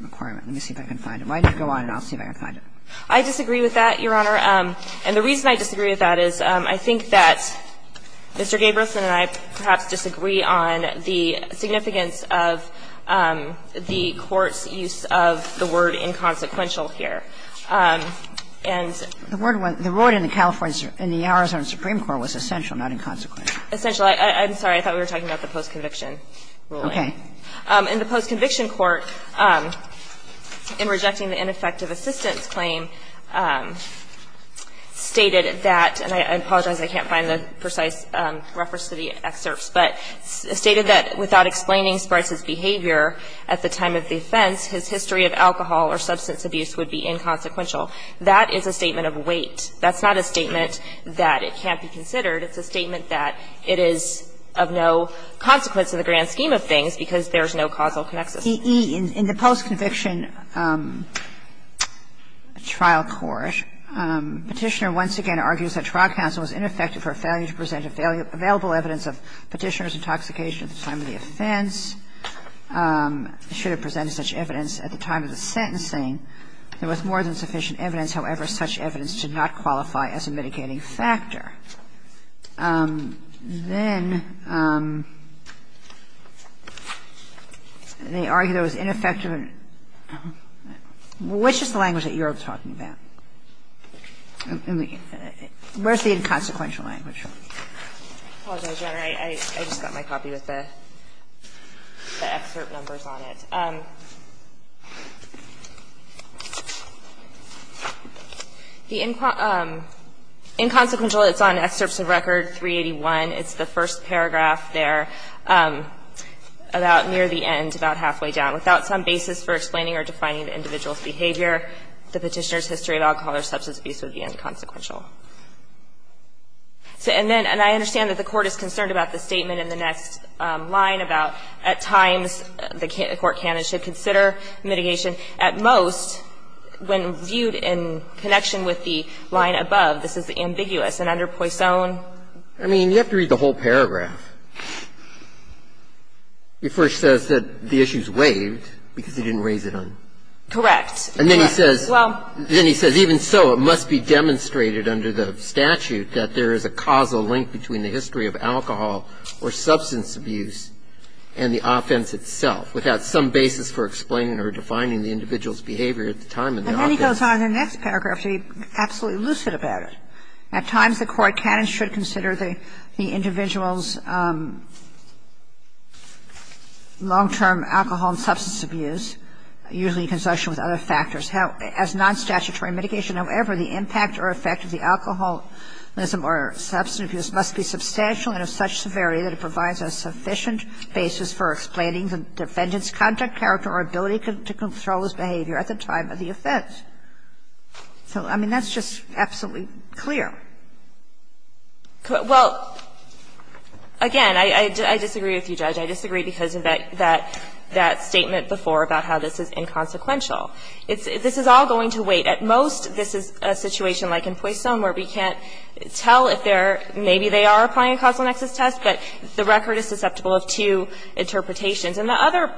requirement. Let me see if I can find it. Why don't you go on and I'll see if I can find it. I disagree with that, Your Honor. And the reason I disagree with that is I think that Mr. Gabrielson and I perhaps disagree on the significance of the court's use of the word inconsequential here. And the word went – the word in the California – in the Arizona Supreme Court was essential, not inconsequential. Essential. I'm sorry. I thought we were talking about the post-conviction ruling. Okay. In the post-conviction court, in rejecting the ineffective assistance claim, the defendant stated that – and I apologize, I can't find the precise reference to the excerpts – but stated that without explaining Sparks's behavior at the time of the offense, his history of alcohol or substance abuse would be inconsequential. That is a statement of weight. That's not a statement that it can't be considered. It's a statement that it is of no consequence in the grand scheme of things because there's no causal nexus. In the post-conviction trial court, Petitioner once again argues that trial counsel was ineffective for a failure to present available evidence of Petitioner's intoxication at the time of the offense. Should have presented such evidence at the time of the sentencing, there was more than sufficient evidence. However, such evidence did not qualify as a mitigating factor. Then they argue that it was ineffective in – which is the language that you are talking about? Where is the inconsequential language from? I apologize, Your Honor. I just got my copy with the excerpt numbers on it. The inconsequential, it's on Excerpts of Record 381. It's the first paragraph there, about near the end, about halfway down. Without some basis for explaining or defining the individual's behavior, the Petitioner's history of alcohol or substance abuse would be inconsequential. And then, and I understand that the Court is concerned about the statement in the next line about, at times, the court can and should consider mitigation. At most, when viewed in connection with the line above, this is ambiguous. And under Poisson? I mean, you have to read the whole paragraph. He first says that the issue is waived because he didn't raise it on – Correct. And then he says – Well – Then he says, even so, it must be demonstrated under the statute that there is a causal link between the history of alcohol or substance abuse and the offense itself. Without some basis for explaining or defining the individual's behavior at the time in the offense. And then he goes on in the next paragraph to be absolutely lucid about it. At times, the court can and should consider the individual's long-term alcohol and substance abuse, usually in conjunction with other factors. As non-statutory mitigation, however, the impact or effect of the alcoholism or substance abuse must be substantial and of such severity that it provides a sufficient basis for explaining the defendant's conduct, character, or ability to control his behavior at the time of the offense. So, I mean, that's just absolutely clear. Well, again, I disagree with you, Judge. I disagree because of that statement before about how this is inconsequential. This is all going to wait. At most, this is a situation like in Poisson where we can't tell if there are – maybe they are applying a causal nexus test, but the record is susceptible of two interpretations. And the other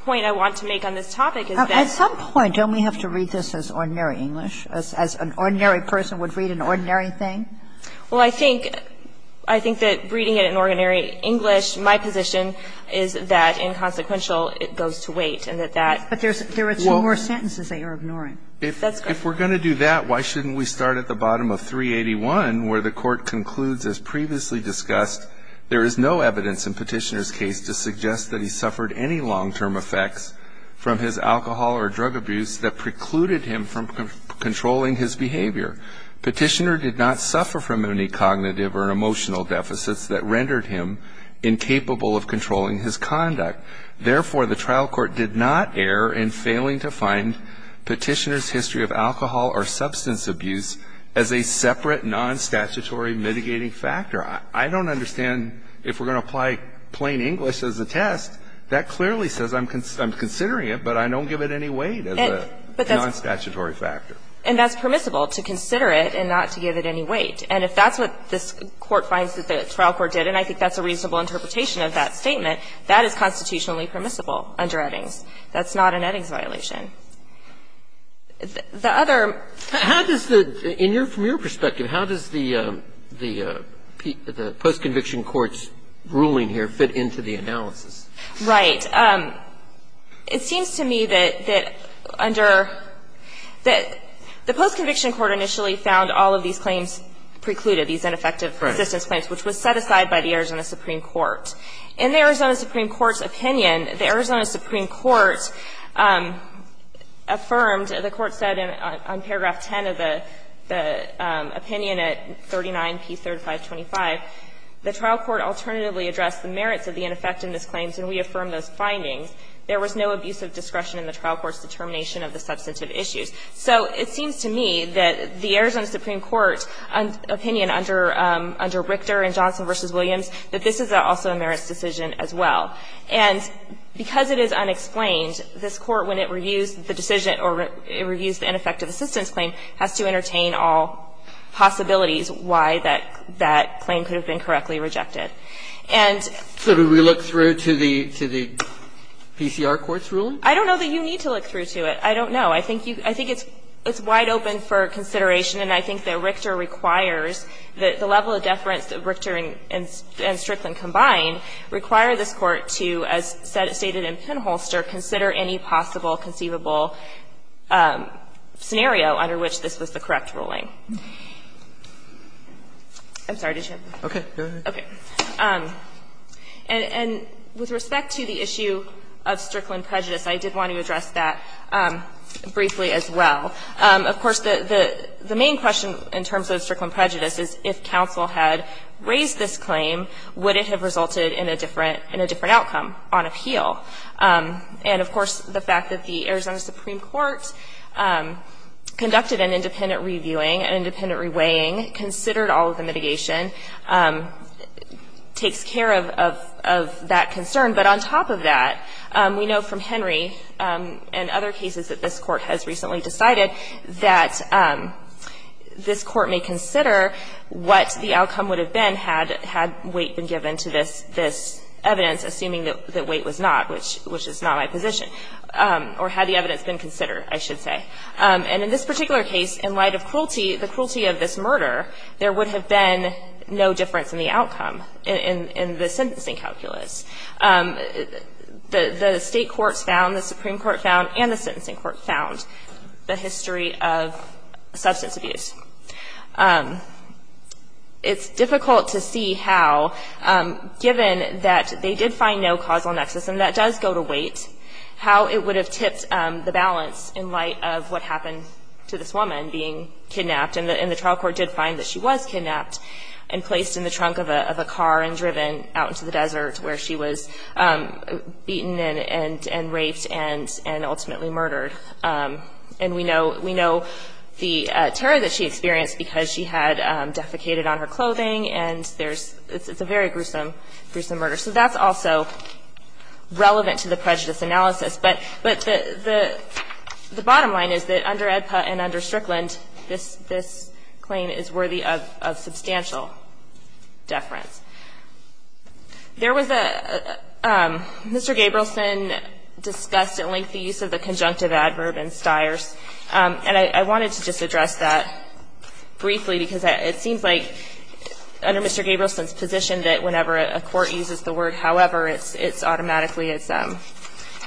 point I want to make on this topic is that – At some point, don't we have to read this as ordinary English, as an ordinary person would read an ordinary thing? Well, I think – I think that reading it in ordinary English, my position is that inconsequential, it goes to wait, and that that – But there's – there are two more sentences that you're ignoring. If we're going to do that, why shouldn't we start at the bottom of 381 where the court concludes, as previously discussed, there is no evidence in Petitioner's case to suggest that he suffered any long-term effects from his alcohol or drug abuse that precluded him from controlling his behavior. Petitioner did not suffer from any cognitive or emotional deficits that rendered him incapable of controlling his conduct. Therefore, the trial court did not err in failing to find Petitioner's history of alcohol or substance abuse as a separate non-statutory mitigating factor. I don't understand if we're going to apply plain English as a test. That clearly says I'm considering it, but I don't give it any weight as a non-statutory factor. And that's permissible, to consider it and not to give it any weight. And if that's what this court finds that the trial court did, and I think that's a reasonable interpretation of that statement, that is constitutionally permissible under Eddings. That's not an Eddings violation. The other ---- How does the ñ from your perspective, how does the post-conviction court's ruling here fit into the analysis? Right. It seems to me that under ñ that the post-conviction court initially found all of these claims precluded, these ineffective assistance claims, which was set aside by the Arizona Supreme Court. In the Arizona Supreme Court's opinion, the Arizona Supreme Court affirmed ñ the Court said in paragraph 10 of the opinion at 39p3-525, the trial court alternatively addressed the merits of the ineffectiveness claims and reaffirmed those findings. There was no abuse of discretion in the trial court's determination of the substantive issues. So it seems to me that the Arizona Supreme Court opinion under ñ under Richter and Johnson v. Williams, that this is also a merits decision as well. And because it is unexplained, this Court, when it reviews the decision or it reviews the ineffective assistance claim, has to entertain all possibilities why that claim could have been correctly rejected. And ñ So do we look through to the ñ to the PCR court's ruling? I don't know that you need to look through to it. I don't know. I think you ñ I think it's wide open for consideration, and I think that Richter requires that the level of deference that Richter and Strickland combine require this Court to, as stated in Pinholster, consider any possible conceivable scenario under which this was the correct ruling. I'm sorry. Did you have a question? Roberts. Okay. Go ahead. Okay. And with respect to the issue of Strickland prejudice, I did want to address that briefly as well. Of course, the main question in terms of Strickland prejudice is if counsel had raised this claim, would it have resulted in a different ñ in a different outcome on appeal? And of course, the fact that the Arizona Supreme Court conducted an independent reviewing, an independent reweighing, considered all of the mitigation, takes care of that concern. But on top of that, we know from Henry and other cases that this Court has recently decided that this Court may consider what the outcome would have been had weight been given to this evidence, assuming that weight was not, which is not my position, or had the evidence been considered, I should say. And in this particular case, in light of cruelty, the cruelty of this murder, there would have been no difference in the outcome in the sentencing calculus. The State courts found, the Supreme Court found, and the sentencing court found the history of substance abuse. It's difficult to see how, given that they did find no causal nexus, and that does go to weight, how it would have tipped the balance in light of what happened to this woman being kidnapped, and the trial court did find that she was kidnapped and placed in the trunk of a car and driven out into the desert, where she was beaten and raped and ultimately murdered. And we know the terror that she experienced because she had defecated on her clothing, and there's – it's a very gruesome, gruesome murder. So that's also relevant to the prejudice analysis. But the bottom line is that under AEDPA and under Strickland, this claim is worthy of substantial deference. There was a – Mr. Gabrielson discussed at length the use of the conjunctive adverb in Stiers, and I wanted to just address that briefly, because it seems like under Mr. Gabrielson's position that whenever a court uses the word however, it's automatically it's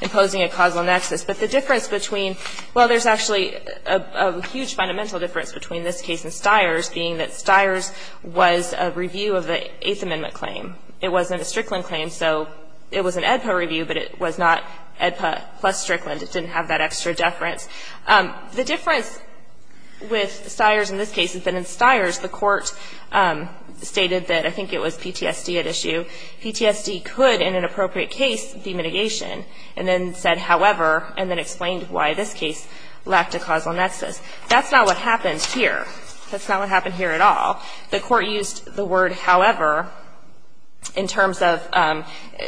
imposing a causal nexus. But the difference between – well, there's actually a huge fundamental difference between this case and Stiers, being that Stiers was a review of the Eighth Amendment claim. It wasn't a Strickland claim, so it was an AEDPA review, but it was not AEDPA plus Strickland. It didn't have that extra deference. The difference with Stiers in this case is that in Stiers, the court stated that – I think it was PTSD at issue. PTSD could, in an appropriate case, be mitigation, and then said however, and then explained why this case lacked a causal nexus. That's not what happened here. That's not what happened here at all. The court used the word however in terms of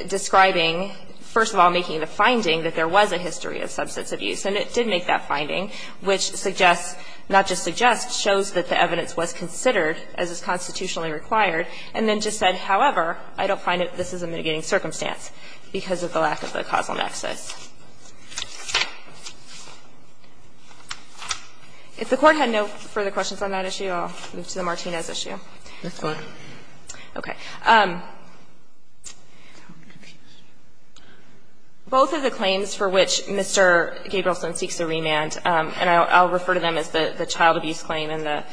describing, first of all, making the finding that there was a history of substance abuse, and it did make that finding, which suggests – not just suggests, shows that the evidence was considered as is constitutionally required, and then just said however, I don't find that this is a mitigating circumstance because of the lack of a causal nexus. If the Court had no further questions on that issue, I'll move to the Martinez issue. Ms. Clark. Okay. Both of the claims for which Mr. Gabrielson seeks a remand, and I'll refer to them as the child abuse claim and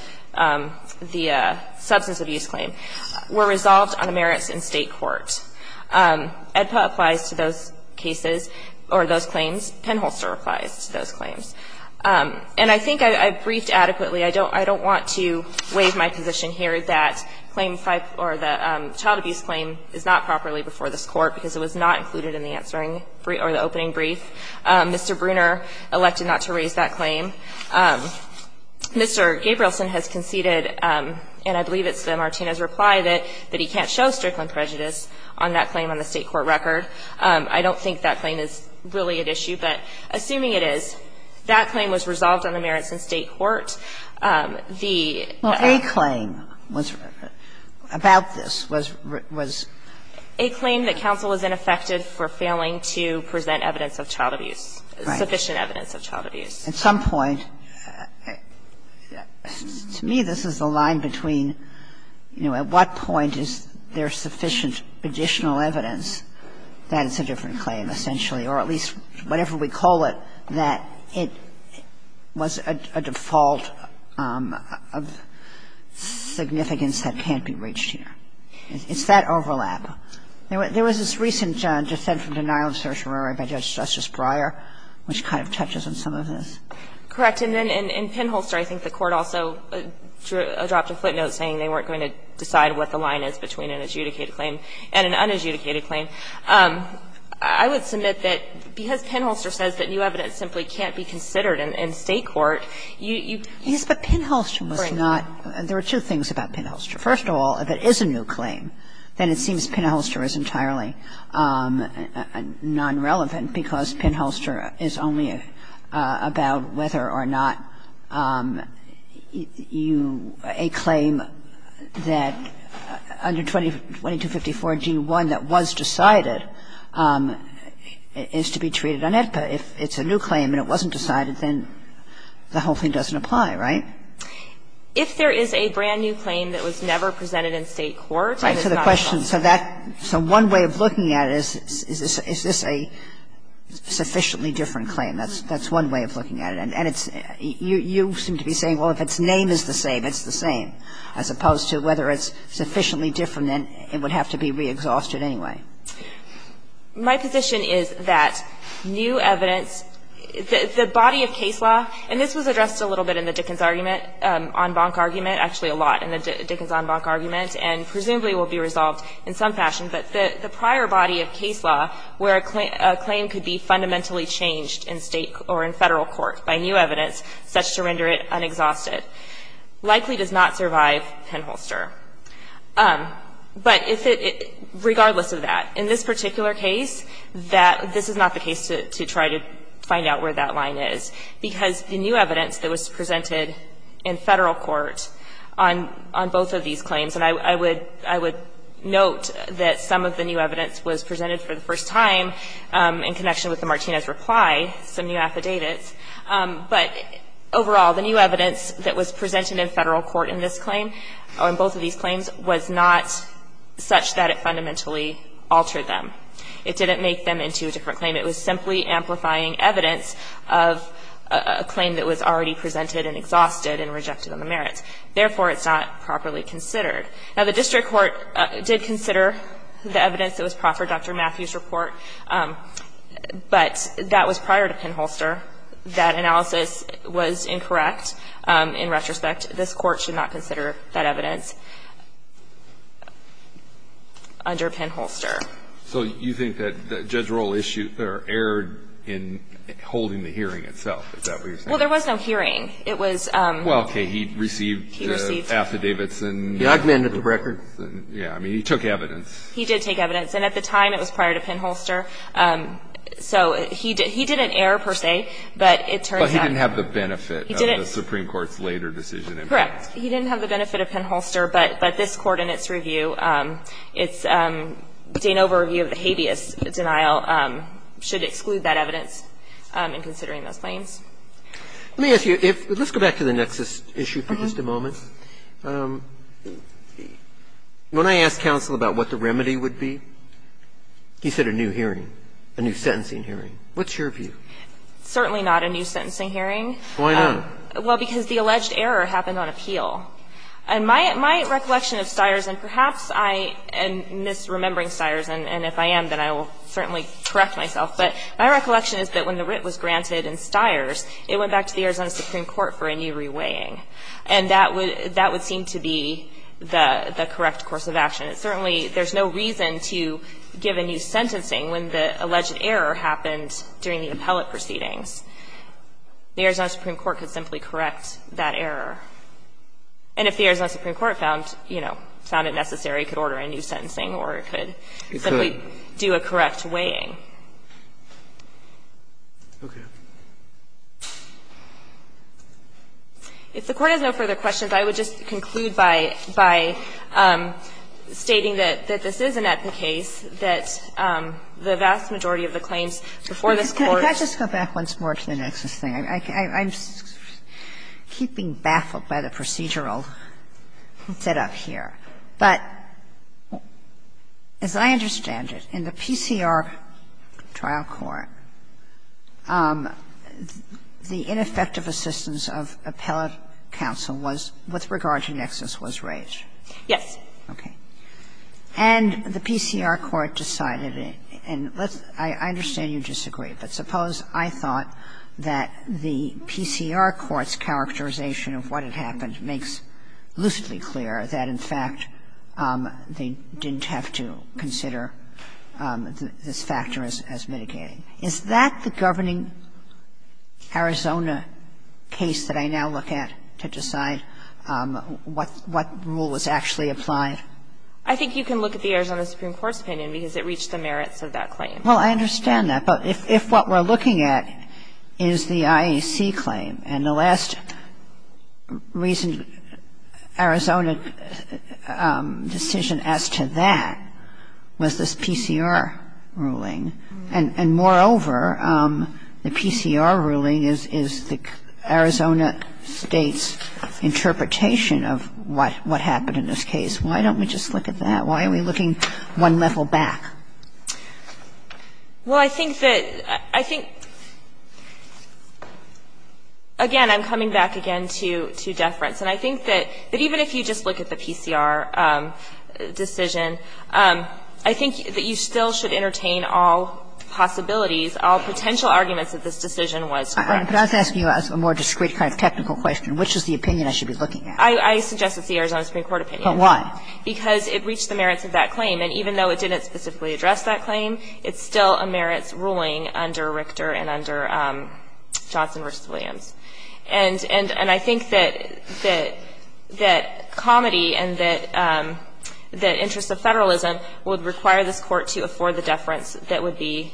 the substance abuse claim, were resolved on the merits in State court. AEDPA applies to those cases. Or those claims. Penholster applies to those claims. And I think I briefed adequately. I don't want to waive my position here that claim 5 or the child abuse claim is not properly before this Court because it was not included in the opening brief. Mr. Bruner elected not to raise that claim. Mr. Gabrielson has conceded, and I believe it's the Martinez reply, that he can't show strickland prejudice on that claim on the State court record. I don't think that claim is really at issue, but assuming it is, that claim was resolved on the merits in State court. The other claim was about this was a claim that counsel was ineffective for failing to present evidence of child abuse, sufficient evidence of child abuse. At some point, to me, this is the line between, you know, at what point is there sufficient additional evidence that it's a different claim, essentially, or at least whatever we call it, that it was a default of significance that can't be reached here. It's that overlap. There was this recent dissent from denial of certiorari by Judge Justice Breyer, which kind of touches on some of this. Correct. And then in Penholster, I think the Court also dropped a footnote saying they weren't going to decide what the line is between an adjudicated claim and an unadjudicated claim. I would submit that because Penholster says that new evidence simply can't be considered in State court, you can't. Yes, but Penholster was not. There were two things about Penholster. First of all, if it is a new claim, then it seems Penholster is entirely nonrelevant, because Penholster is only about whether or not you – a claim that under 2254 g)(1 that was decided is to be treated on AEDPA. If it's a new claim and it wasn't decided, then the whole thing doesn't apply, right? If there is a brand-new claim that was never presented in State court, then it's not a claim. So that – so one way of looking at it is, is this a sufficiently different claim? That's one way of looking at it. And it's – you seem to be saying, well, if its name is the same, it's the same, as opposed to whether it's sufficiently different, then it would have to be re-exhausted anyway. My position is that new evidence – the body of case law – and this was addressed a little bit in the Dickens argument, en banc argument, actually a lot in the Dickens en banc argument, and presumably will be resolved in some fashion. But the prior body of case law where a claim could be fundamentally changed in State or in Federal court by new evidence, such to render it unexhausted, likely does not survive Penholster. But if it – regardless of that, in this particular case, that – this is not the case to try to find out where that line is, because the new evidence that was presented in Federal court on – on both of these claims, and I would – I would note that some of the new evidence was presented for the first time in connection with the Martinez reply, some new affidavits, but overall, the new evidence that was presented in Federal court in this claim, or in both of these claims, was not such that it fundamentally altered them. It didn't make them into a different claim. It was simply amplifying evidence of a claim that was already presented and exhausted and rejected on the merits. Therefore, it's not properly considered. Now, the district court did consider the evidence that was brought for Dr. Matthews' report, but that was prior to Penholster. That analysis was incorrect. In retrospect, this Court should not consider that evidence under Penholster. So you think that Judge Rohl issued – or erred in holding the hearing itself? Is that what you're saying? Well, there was no hearing. It was – Well, okay. He received the affidavits and – He augmented the records. Yeah. I mean, he took evidence. He did take evidence. And at the time, it was prior to Penholster. So he didn't – he didn't err, per se, but it turns out – But he didn't have the benefit of the Supreme Court's later decision in Penholster. Correct. He didn't have the benefit of Penholster, but this Court in its review, it's – David And so I think that the Supreme Court's claim of having an overview of the habeas denial should exclude that evidence in considering those claims. Let me ask you, if – let's go back to the nexus issue for just a moment. When I asked counsel about what the remedy would be, he said a new hearing, a new sentencing hearing. What's your view? Certainly not a new sentencing hearing. Why not? Well, because the alleged error happened on appeal. And my recollection of Stiers, and perhaps I am misremembering Stiers, and if I am, then I will certainly correct myself, but my recollection is that when the writ was granted in Stiers, it went back to the Arizona Supreme Court for a new reweighing, and that would seem to be the correct course of action. It certainly – there's no reason to give a new sentencing when the alleged error happened during the appellate proceedings. The Arizona Supreme Court could simply correct that error. And if the Arizona Supreme Court found, you know, found it necessary, it could order a new sentencing or it could simply do a correct weighing. It could. Okay. If the Court has no further questions, I would just conclude by stating that this is not the case, that the vast majority of the claims before this Court – Can I just go back once more to the Nexus thing? I'm keeping baffled by the procedural set-up here. But as I understand it, in the PCR trial court, the ineffective assistance of appellate counsel was – with regard to Nexus was raised. Yes. Okay. And the PCR court decided – and I understand you disagree, but suppose I thought that the PCR court's characterization of what had happened makes lucidly clear that, in fact, they didn't have to consider this factor as mitigating. Is that the governing Arizona case that I now look at to decide what rule was actually applied? I think you can look at the Arizona Supreme Court's opinion because it reached the merits of that claim. Well, I understand that. But if what we're looking at is the IAC claim, and the last reason Arizona decision as to that was this PCR ruling, and moreover, the PCR ruling is the Arizona State's interpretation of what happened in this case. Why don't we just look at that? Why are we looking one level back? Well, I think that – I think – again, I'm coming back again to deference. And I think that even if you just look at the PCR decision, I think that you still should entertain all possibilities, all potential arguments that this decision was correct. But I was asking you a more discrete kind of technical question. Which is the opinion I should be looking at? I suggest it's the Arizona Supreme Court opinion. But why? Because it reached the merits of that claim. And even though it didn't specifically address that claim, it's still a merits ruling under Richter and under Johnson v. Williams. And I think that comedy and that interest of federalism would require this court to afford the deference that would be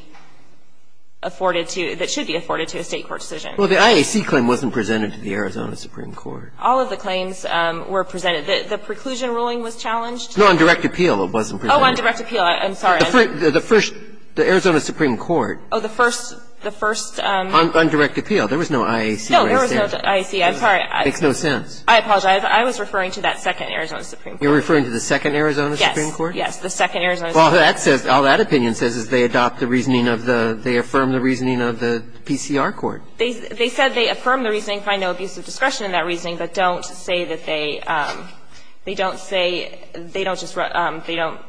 afforded to – that should be afforded to a State court decision. Well, the IAC claim wasn't presented to the Arizona Supreme Court. All of the claims were presented. The preclusion ruling was challenged? No, on direct appeal it wasn't presented. Oh, on direct appeal. I'm sorry. The first – the Arizona Supreme Court. Oh, the first – the first – On direct appeal. There was no IAC right there. No, there was no IAC. I'm sorry. It makes no sense. I apologize. I was referring to that second Arizona Supreme Court. You're referring to the second Arizona Supreme Court? Yes. Yes. The second Arizona Supreme Court. Well, that says – all that opinion says is they adopt the reasoning of the – they affirm the reasoning of the PCR court. They said they affirm the reasoning, find no abuse of discretion in that reasoning, but don't say that they – they don't say – they don't just – they don't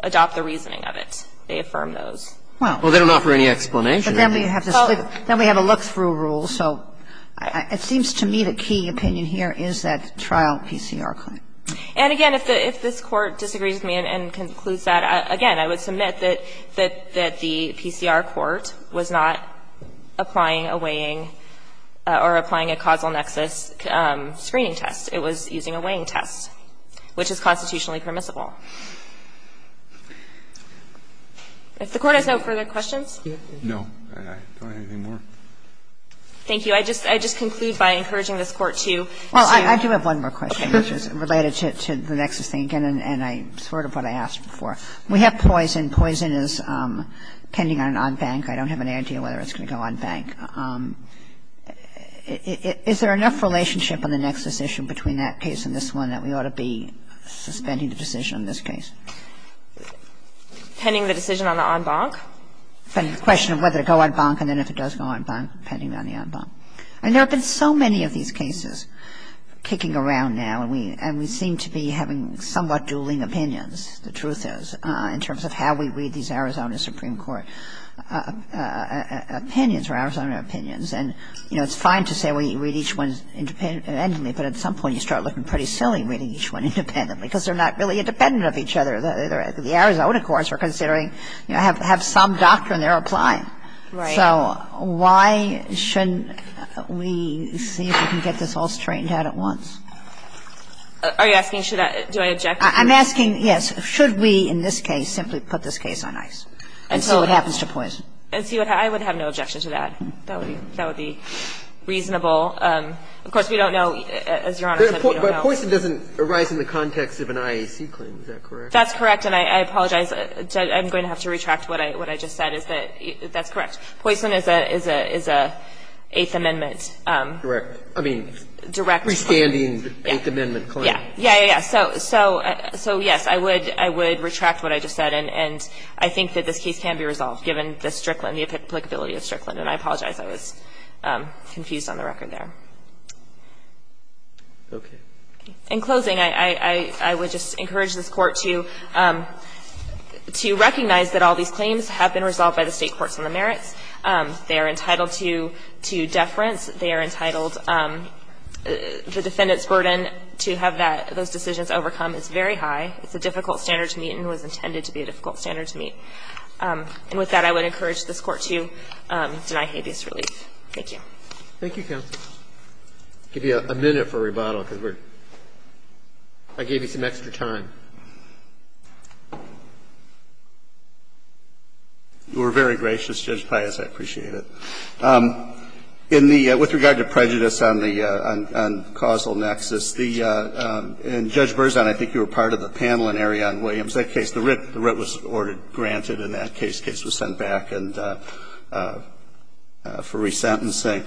adopt the reasoning of it. They affirm those. Well, they don't offer any explanation. But then we have to split – then we have a look-through rule. So it seems to me the key opinion here is that trial PCR claim. And, again, if the – if this Court disagrees with me and concludes that, again, I would submit that the PCR court was not applying a weighing or applying a causal nexus screening test. It was using a weighing test, which is constitutionally permissible. If the Court has no further questions? No. I don't have any more. Thank you. I just conclude by encouraging this Court to see a – Well, I do have one more question, which is related to the nexus thing, and I – sort of what I asked before. We have poison. Poison is pending on bank. I don't have an idea whether it's going to go on bank. Is there enough relationship on the nexus issue between that case and this one that we ought to be suspending the decision on this case? Pending the decision on the en banc? The question of whether to go on bank and then if it does go on bank, pending on the en banc. And there have been so many of these cases kicking around now, and we – and we seem to be having somewhat dueling opinions, the truth is, in terms of how we read these cases. And I think it's important for us to look at the Arizona Supreme Court opinions or Arizona opinions. And, you know, it's fine to say we read each one independently, but at some point you start looking pretty silly reading each one independently because they're not really independent of each other. The Arizona courts, we're considering, you know, have some doctrine they're applying. Right. So why shouldn't we see if we can get this all straightened out at once? Are you asking should I – do I object to this? I'm asking, yes, should we in this case simply put this case on ice, and so it happens to Poison? I would have no objection to that. That would be reasonable. Of course, we don't know, as Your Honor said, we don't know. But Poison doesn't arise in the context of an IAC claim, is that correct? That's correct, and I apologize. I'm going to have to retract what I just said, is that that's correct. Poison is a – is a Eighth Amendment. Correct. I mean, direct. Restanding Eighth Amendment claim. Yeah. Yeah, yeah, yeah. So, yes, I would – I would retract what I just said, and I think that this case can be resolved, given the Strickland, the applicability of Strickland. And I apologize, I was confused on the record there. Okay. In closing, I would just encourage this Court to – to recognize that all these claims have been resolved by the State courts on the merits. They are entitled to – to deference. They are entitled – the defendant's burden to have that – those decisions overcome is very high. It's a difficult standard to meet and was intended to be a difficult standard to meet. And with that, I would encourage this Court to deny habeas relief. Thank you. Thank you, counsel. I'll give you a minute for rebuttal, because we're – I gave you some extra time. You were very gracious, Judge Pius. I appreciate it. In the – with regard to prejudice on the – on causal nexus, the – and, Judge Berzon, I think you were part of the panel in Arion Williams. That case, the writ – the writ was ordered granted in that case. The case was sent back and – for resentencing.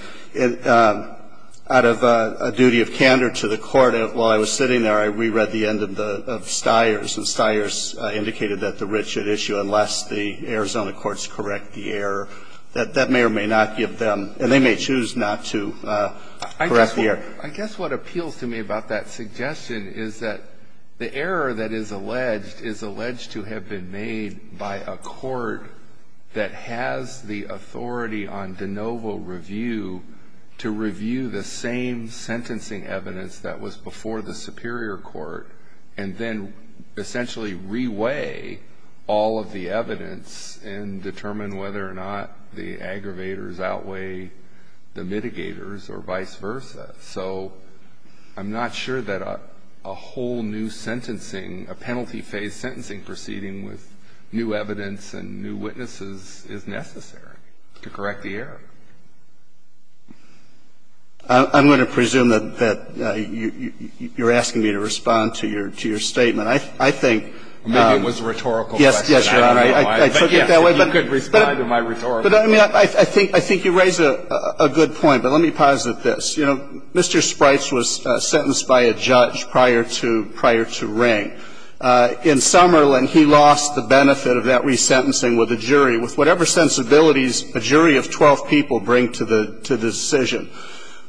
Out of a duty of candor to the Court, while I was sitting there, I reread the end of Stiers, and Stiers indicated that the writ should issue unless the Arizona courts correct the error. That may or may not give them – and they may choose not to correct the error. I guess what appeals to me about that suggestion is that the error that is alleged is alleged to have been made by a court that has the authority on de novo review to review the same sentencing evidence that was before the superior court and then the aggravators outweigh the mitigators or vice versa. So I'm not sure that a whole new sentencing, a penalty-phase sentencing proceeding with new evidence and new witnesses is necessary to correct the error. I'm going to presume that you're asking me to respond to your – to your statement. I think – Maybe it was a rhetorical question. Yes, Your Honor. I forget that way, but – I could respond to my rhetorical question. But I think you raise a good point, but let me posit this. You know, Mr. Sprites was sentenced by a judge prior to – prior to Ring. In Summerlin, he lost the benefit of that resentencing with a jury. With whatever sensibilities a jury of 12 people bring to the decision,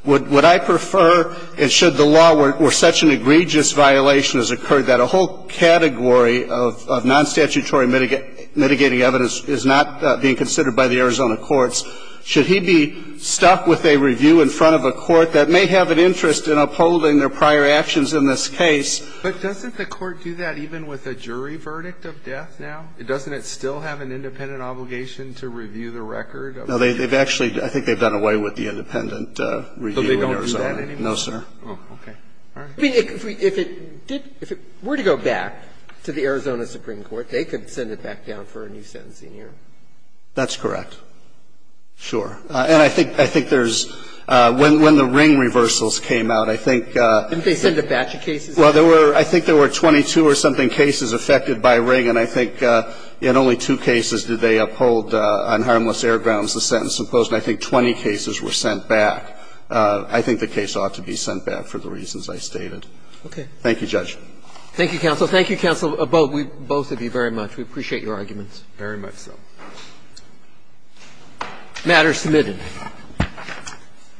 would I prefer – and should the law, where such an egregious violation has occurred, that a whole category of non-statutory mitigating evidence is not being considered by the Arizona courts, should he be stuck with a review in front of a court that may have an interest in upholding their prior actions in this case? But doesn't the court do that even with a jury verdict of death now? Doesn't it still have an independent obligation to review the record of the jury? No, they've actually – I think they've done away with the independent review in Arizona. But they don't do that anymore? No, sir. Oh, okay. All right. I mean, if it did – if it were to go back to the Arizona Supreme Court, they could send it back down for a new sentencing hearing. That's correct. Sure. And I think – I think there's – when the Ring reversals came out, I think Didn't they send a batch of cases? Well, there were – I think there were 22 or something cases affected by Ring, and I think in only two cases did they uphold on harmless air grounds the sentence imposed, and I think 20 cases were sent back. I think the case ought to be sent back for the reasons I stated. Okay. Thank you, Judge. Thank you, counsel. Thank you, counsel, both of you very much. We appreciate your arguments very much so. Matter submitted.